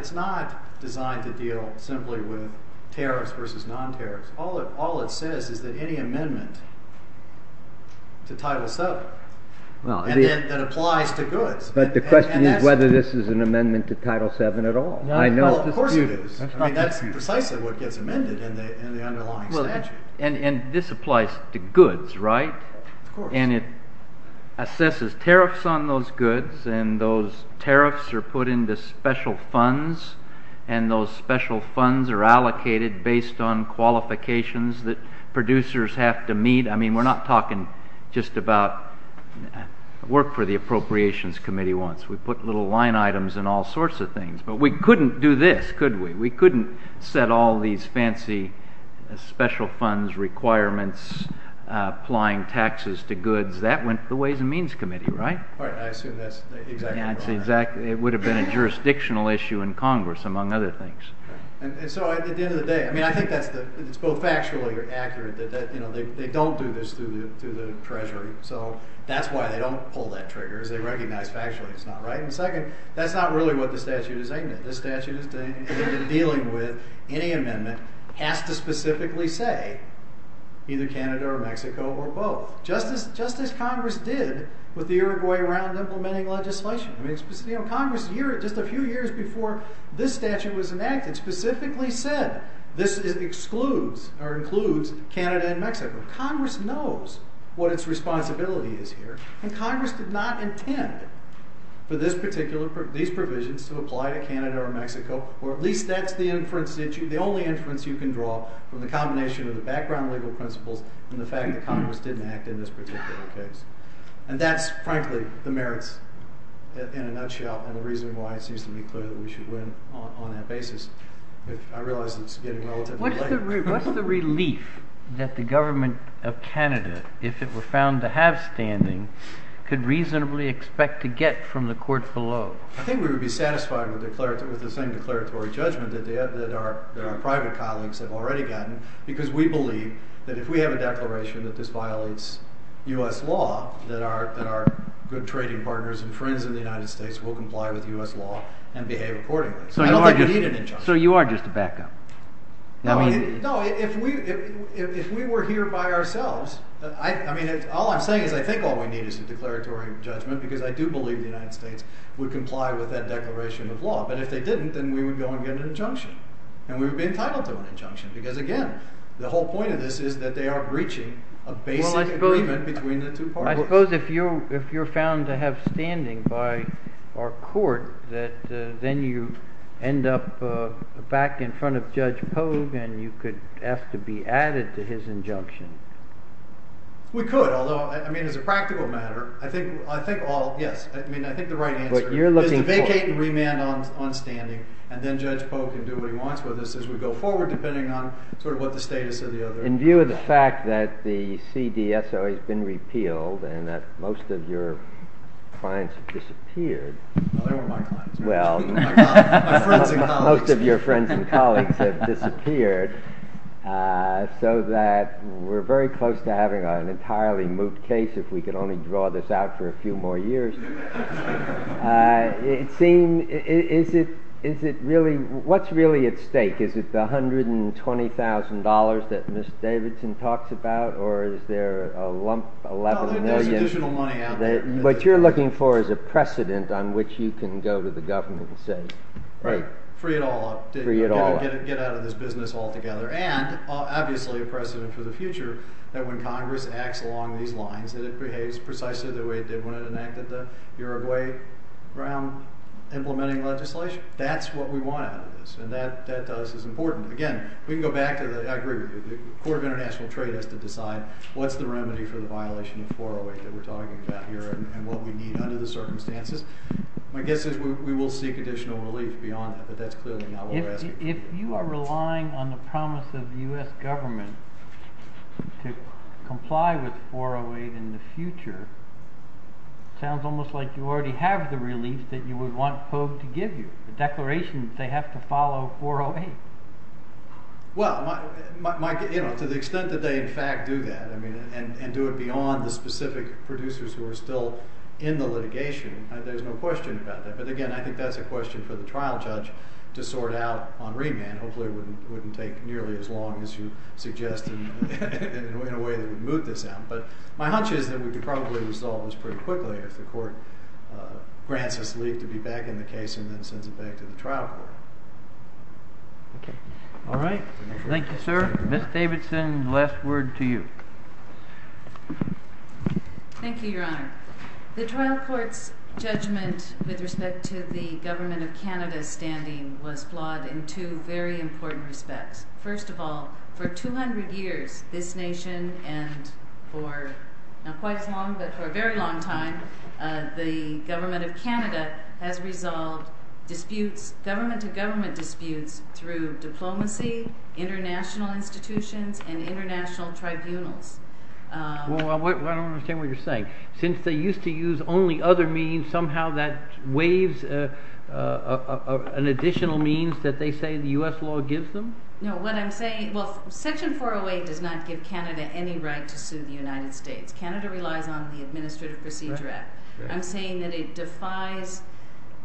designed to deal simply with tariffs versus non-tariffs. All it says is that any amendment to Title VII, and it applies to goods. But the question is whether this is an amendment to Title VII at all. No, of course it is. That's precisely what gets amended in the underlying statute. And this applies to goods, right? Of course. And it assesses tariffs on those goods, and those tariffs are put into special funds, and those special funds are allocated based on qualifications that producers have to meet. I mean, we're not talking just about work for the Appropriations Committee once. We put little line items and all sorts of things. But we couldn't do this, could we? We couldn't set all these fancy special funds requirements, applying taxes to goods. That went to the Ways and Means Committee, right? I assume that's exactly right. Exactly. It would have been a jurisdictional issue in Congress, among other things. And so at the end of the day, I mean, I think that's both factually accurate, that they don't do this through the Treasury, so that's why they don't pull that trigger. They recognize factually it's not right. And second, that's not really what the statute is aiming at. This statute is dealing with any amendment has to specifically say either Canada or Mexico or both, just as Congress did with the Uruguayan Round of Implementing Legislation. Congress here, just a few years before this statute was enacted, specifically said this excludes or includes Canada and Mexico. Congress knows what its responsibility is here, and Congress did not intend for these provisions to apply to Canada or Mexico, or at least that's the only inference you can draw from the combination of the background legal principles and the fact that Congress didn't act in this particular case. And that's, frankly, the merits, in a nutshell, and the reason why it seems to be clear that we should win on that basis. I realize it's getting relative. What's the relief that the government of Canada, if it were found to have standing, could reasonably expect to get from the court below? I think we would be satisfied with the same declaratory judgment that our private colleagues have already gotten, because we believe that if we have a declaration that this violates U.S. law, that our good trading partners and friends in the United States will comply with U.S. law and behave accordingly. So you are just a backup? No, if we were here by ourselves, I mean, all I'm saying is I think all we need is a declaratory judgment, because I do believe the United States would comply with that declaration of law. But if they didn't, then we would go and get an injunction, and we would be entitled to an injunction, because, again, the whole point of this is that they are breaching a basic agreement between the two parties. I suppose if you're found to have standing by our court, that then you end up back in front of Judge Pogue, and you could have to be added to his injunction. We could, although, I mean, as a practical matter, I think all, yes, I mean, I think the right answer is vacate and remand on standing, and then Judge Pogue can do remands with us as we go forward, In view of the fact that the CDSO has been repealed and that most of your clients have disappeared, Well, most of your friends and colleagues have disappeared, so that we're very close to having an entirely moved case if we could only draw this out for a few more years. It seems, is it really, what's really at stake? Is it the $120,000 that Mr. Davidson talks about, or is there a lump, 11 million? What you're looking for is a precedent on which you can go to the government and say, Right, free it all up. Free it all up. Get out of this business altogether. And, obviously, a precedent for the future, that when Congress acts along these lines, that it behaves precisely the way it did when it enacted the Uruguay Brown implementing legislation. That's what we want out of this, and that does, is important. Again, we can go back to the, I agree, the Court of International Trade has to decide what's the remedy for the violation of 408 that we're talking about here and what we need under the circumstances. My guess is we will seek additional relief beyond that, but that's clearly not what we're asking. If you are relying on the promise of the U.S. government to comply with 408 in the future, it sounds almost like you already have the relief that you would want FOB to give you, the declaration that they have to follow 408. Well, to the extent that they, in fact, do that, and do it beyond the specific producers who are still in the litigation, there's no question about that. But again, I think that's a question for the trial judge to sort out on remand. Hopefully it wouldn't take nearly as long as you suggested in a way to move this out. But my hunch is that we could probably resolve this pretty quickly if the court grants us relief to be back in the case and then send it back to the trial court. All right. Thank you, sir. Ms. Davidson, last word to you. Thank you, Your Honor. The trial court's judgment with respect to the Government of Canada's standing was flawed in two very important respects. First of all, for 200 years this nation and for quite a long, but for a very long time, the Government of Canada has resolved government-to-government disputes through diplomacy, international institutions, and international tribunals. Well, I don't understand what you're saying. Since they used to use only other means, somehow that waives an additional means that they say the U.S. law gives them? No, what I'm saying, well, Section 408 does not give Canada any right to sue the United States. Canada relies on the Administrative Procedure Act. I'm saying that it defies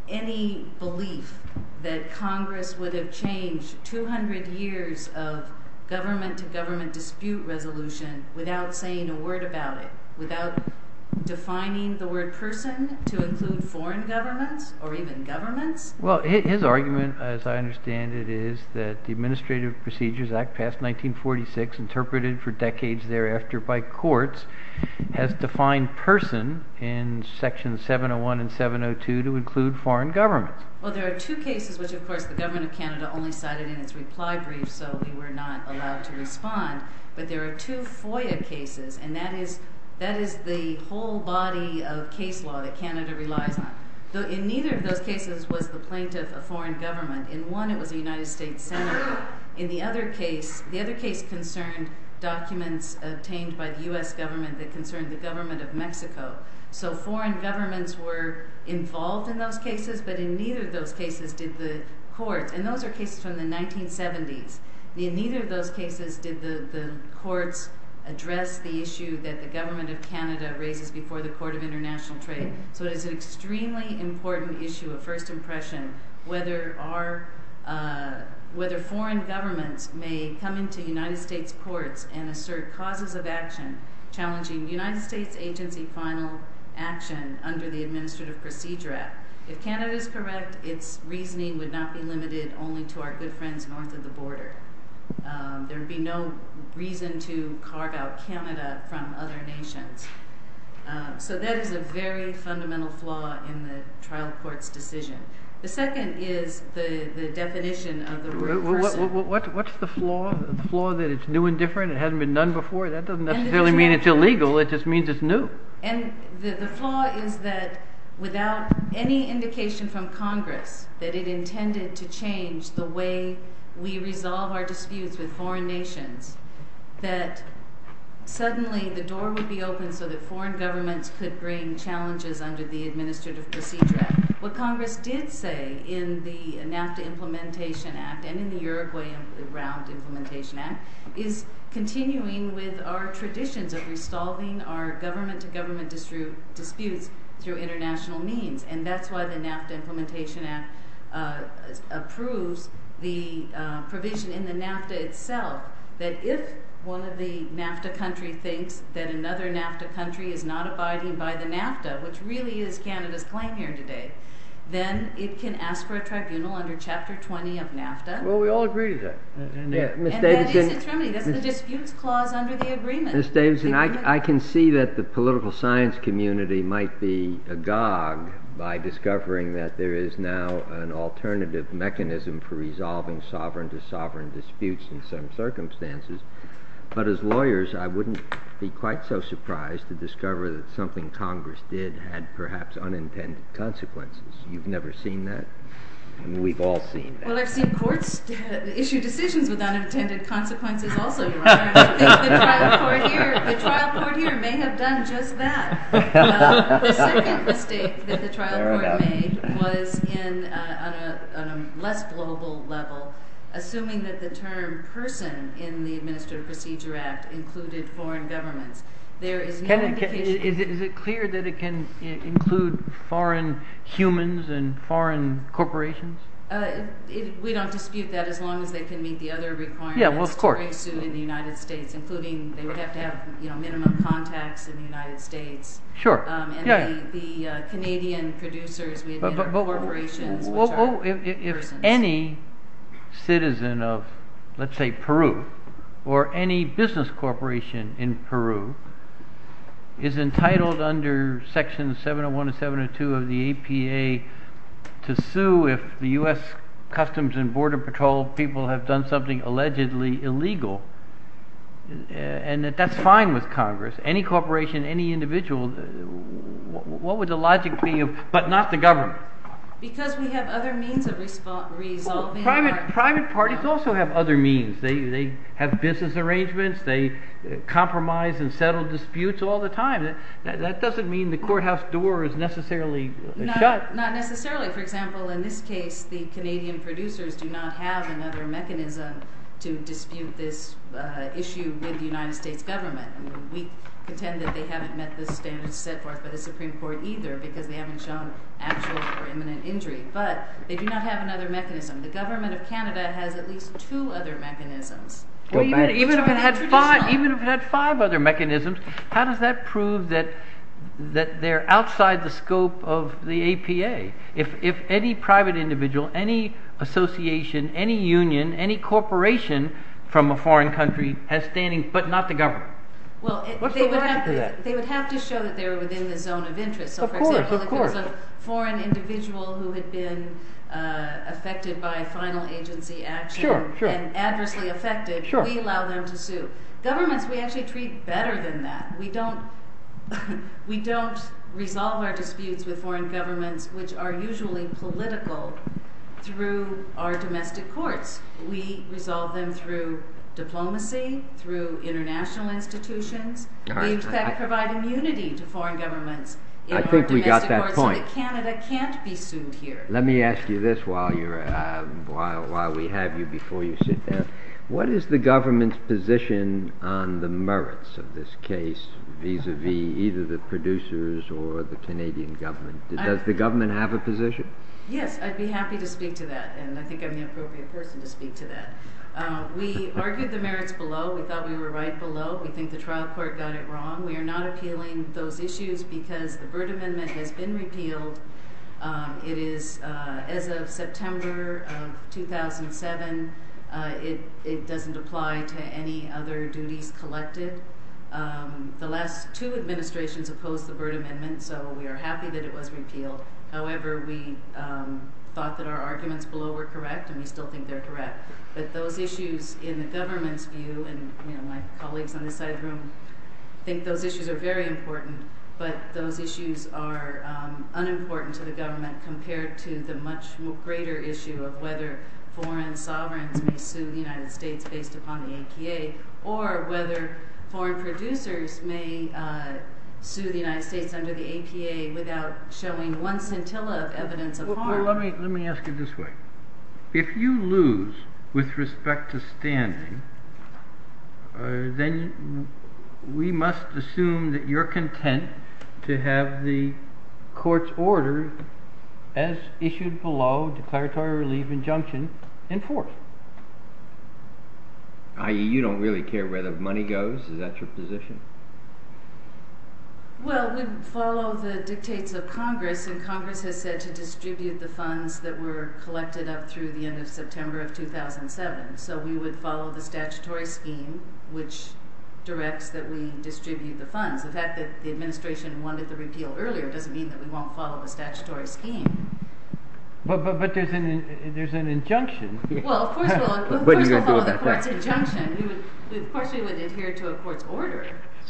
any belief that Congress would have changed 200 years of government-to-government dispute resolution without saying a word about it, without defining the word person to include foreign government or even government. Well, his argument, as I understand it, is that the Administrative Procedures Act passed in 1946, interpreted for decades thereafter by courts, has defined person in Sections 701 and 702 to include foreign government. Well, there are two cases which, of course, the Government of Canada only cited in its reply brief, so we were not allowed to respond, but there are two FOIA cases, and that is the whole body of case law that Canada relies on. So in neither of those cases was the plaintiff a foreign government. In one, it was the United States Senate. In the other case, the other case concerns documents obtained by the U.S. government that concern the government of Mexico. So foreign governments were involved in those cases, but in neither of those cases did the court, and those are cases from the 1970s, in neither of those cases did the court address the issue that the Government of Canada raised before the Court of International Trade, but it's an extremely important issue of first impression whether foreign governments may come into United States courts and assert clauses of action challenging United States agency final action under the Administrative Procedure Act. If Canada is correct, its reasoning would not be limited only to our good friends north of the border. There would be no reason to carve out Canada from other nations. So that is a very fundamental flaw in the trial court's decision. The second is the definition of the rule of first impression. Well, what's the flaw? The flaw that it's new and different, it hasn't been done before? That doesn't necessarily mean it's illegal, it just means it's new. And the flaw is that without any indication from Congress that it intended to change the way we resolve our disputes with foreign nations, that suddenly the door would be open for the foreign governments to bring challenges under the Administrative Procedure Act. What Congress did say in the NAFTA Implementation Act and in the Uruguay and the Iran Implementation Act is continuing with our traditions of resolving our government-to-government disputes through international means. And that's why the NAFTA Implementation Act approves the provision in the NAFTA itself that if one of the NAFTA countries thinks that another NAFTA country is not abiding by the NAFTA, which really is Canada's claim here today, then it can ask for a tribunal under Chapter 20 of NAFTA. Well, we all agree to that. And that is the term of the dispute clause under the agreement. Ms. Davison, I can see that the political science community might be agog by discovering that there is now an alternative mechanism for resolving sovereign-to-sovereign disputes in some circumstances. I remember that something Congress did had perhaps unintended consequences. You've never seen that? We've all seen that. Well, there are some courts that issue decisions without intended consequences also, Your Honor. The trial court here may have done just that. The second mistake that the trial court made was on a less global level, assuming that the term person in the Administrative Procedure Act included foreign governments. Is it clear that it can include foreign humans and foreign corporations? We don't dispute that as long as they can meet the other requirements of cooperation in the United States, including they would have to have minimum contacts in the United States. Sure. And the Canadian producers with their corporations. If any citizen of, let's say, Peru or any business corporation in Peru is entitled under Section 701 and 702 of the APA to sue if the U.S. Customs and Border Patrol people have done something allegedly illegal, and if that's fine with Congress, any corporation, any individual, what would the logic be but not the government? Because we have other means of resolving it. Well, private parties also have other means. They have business arrangements. They compromise and settle disputes all the time. That doesn't mean the courthouse door is necessarily shut. Not necessarily. For example, in this case, the Canadian producers do not have another mechanism to dispute this issue with the United States government. We pretend that they haven't necessarily settled it with the Supreme Court either because they haven't shown actual or imminent injury, but they do not have another mechanism. The government of Canada has at least two other mechanisms. Even if it had five other mechanisms, how does that prove that they're outside the scope of the APA? If any private individual, any association, any union, any corporation from a foreign country has standing but not the government? What's the logic to that? They would have to show that they're within the zone of interest. Of course, of course. For an individual who has been affected by a final agency action and adversely affected, we allow them to sue. Governments we actually treat better than that. We don't resolve our disputes with foreign governments, which are usually political, through our domestic courts. We resolve them through diplomacy, through international institutions. We expect to provide immunity to foreign governments. I think we got that point. Canada can't be sued here. Let me ask you this while we have you before you sit down. What is the government's position on the merits of this case, vis-à-vis either the producers or the Canadian government? Does the government have a position? Yes, I'd be happy to speak to that, and I think I'm the appropriate person to speak to that. We argued the merits below. We thought we were right below. We think the trial court got it wrong. We are not appealing those issues because the Burt Amendment has been repealed. It is as of September of 2007. It doesn't apply to any other duties collected. The last two administrations opposed the Burt Amendment, so we are happy that it was repealed. However, we thought that our arguments below were correct, and we still think they're correct. But those issues, in the government's view, and my colleagues on this side of the room think those issues are very important, but those issues are unimportant to the government compared to the much greater issue of whether foreign sovereigns may sue the United States based upon the APA or whether foreign producers may sue the United States under the APA without showing one scintilla of evidence of harm. Let me ask you this way. If you lose with respect to standing, then we must assume that you're content to have the court's order, as issued below, declaratory relief injunction enforced. You don't really care where the money goes? Is that your position? Well, it would follow the dictates of Congress, and Congress has said to distribute the funds that were collected up through the end of September of 2007. So we would follow the statutory scheme, which directs that we distribute the funds. The fact that the administration wanted the repeal earlier doesn't mean that we won't follow the statutory scheme. But there's an injunction. What are you going to do about that? So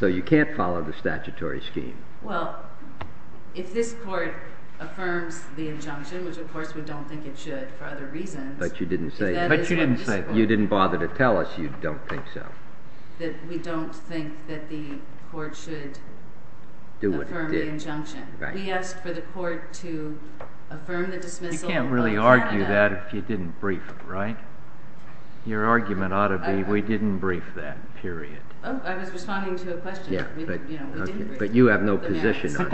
you can't follow the statutory scheme? But you didn't say. You didn't bother to tell us you don't think so. We don't think that the court should affirm the injunction. We asked for the court to affirm the dismissal. You can't really argue that if you didn't brief them, right? Your argument ought to be we didn't brief them, period. I was responding to a question. But you have no position on it.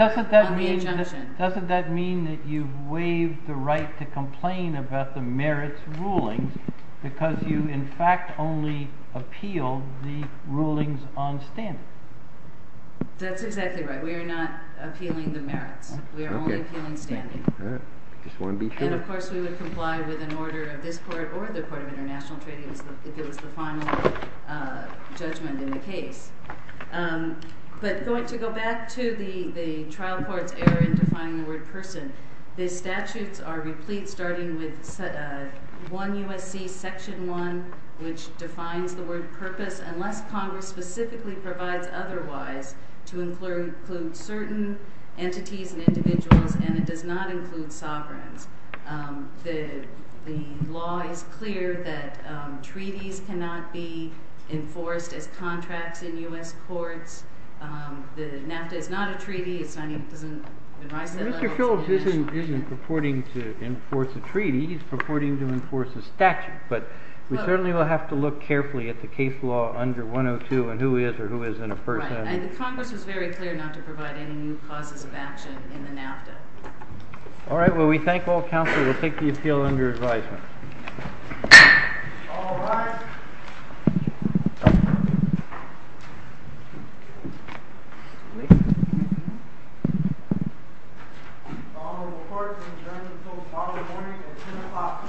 Doesn't that mean that you've waived the right to complain about the merits ruling because you, in fact, have only appealed the rulings on standing? That's exactly right. We are not appealing the merits. We are only appealing standing. Just want to be sure. And, of course, we would comply with an order of this court or the court of international treaties if it was the final judgment in the case. But going to go back to the trial court's error in defining the word person, the statutes are replete, starting with 1 U.S.C. Section 1, which defines the word purpose, unless Congress specifically provides otherwise to include certain entities and individuals, and it does not include sovereigns. The law is clear that treaties cannot be enforced as contracts in U.S. courts. The NAFTA is not a treaty. Mr. Shultz isn't purporting to enforce a treaty. He's purporting to enforce a statute, but we certainly will have to look carefully at the case law under 102 and who is or who isn't a person. Congress is very clear not to provide any new causes of action in the NAFTA. All right, well, we thank all counsel who take the appeal under advisement. All rise. The honorable court concerns the full follow-up hearing at 2 o'clock this evening.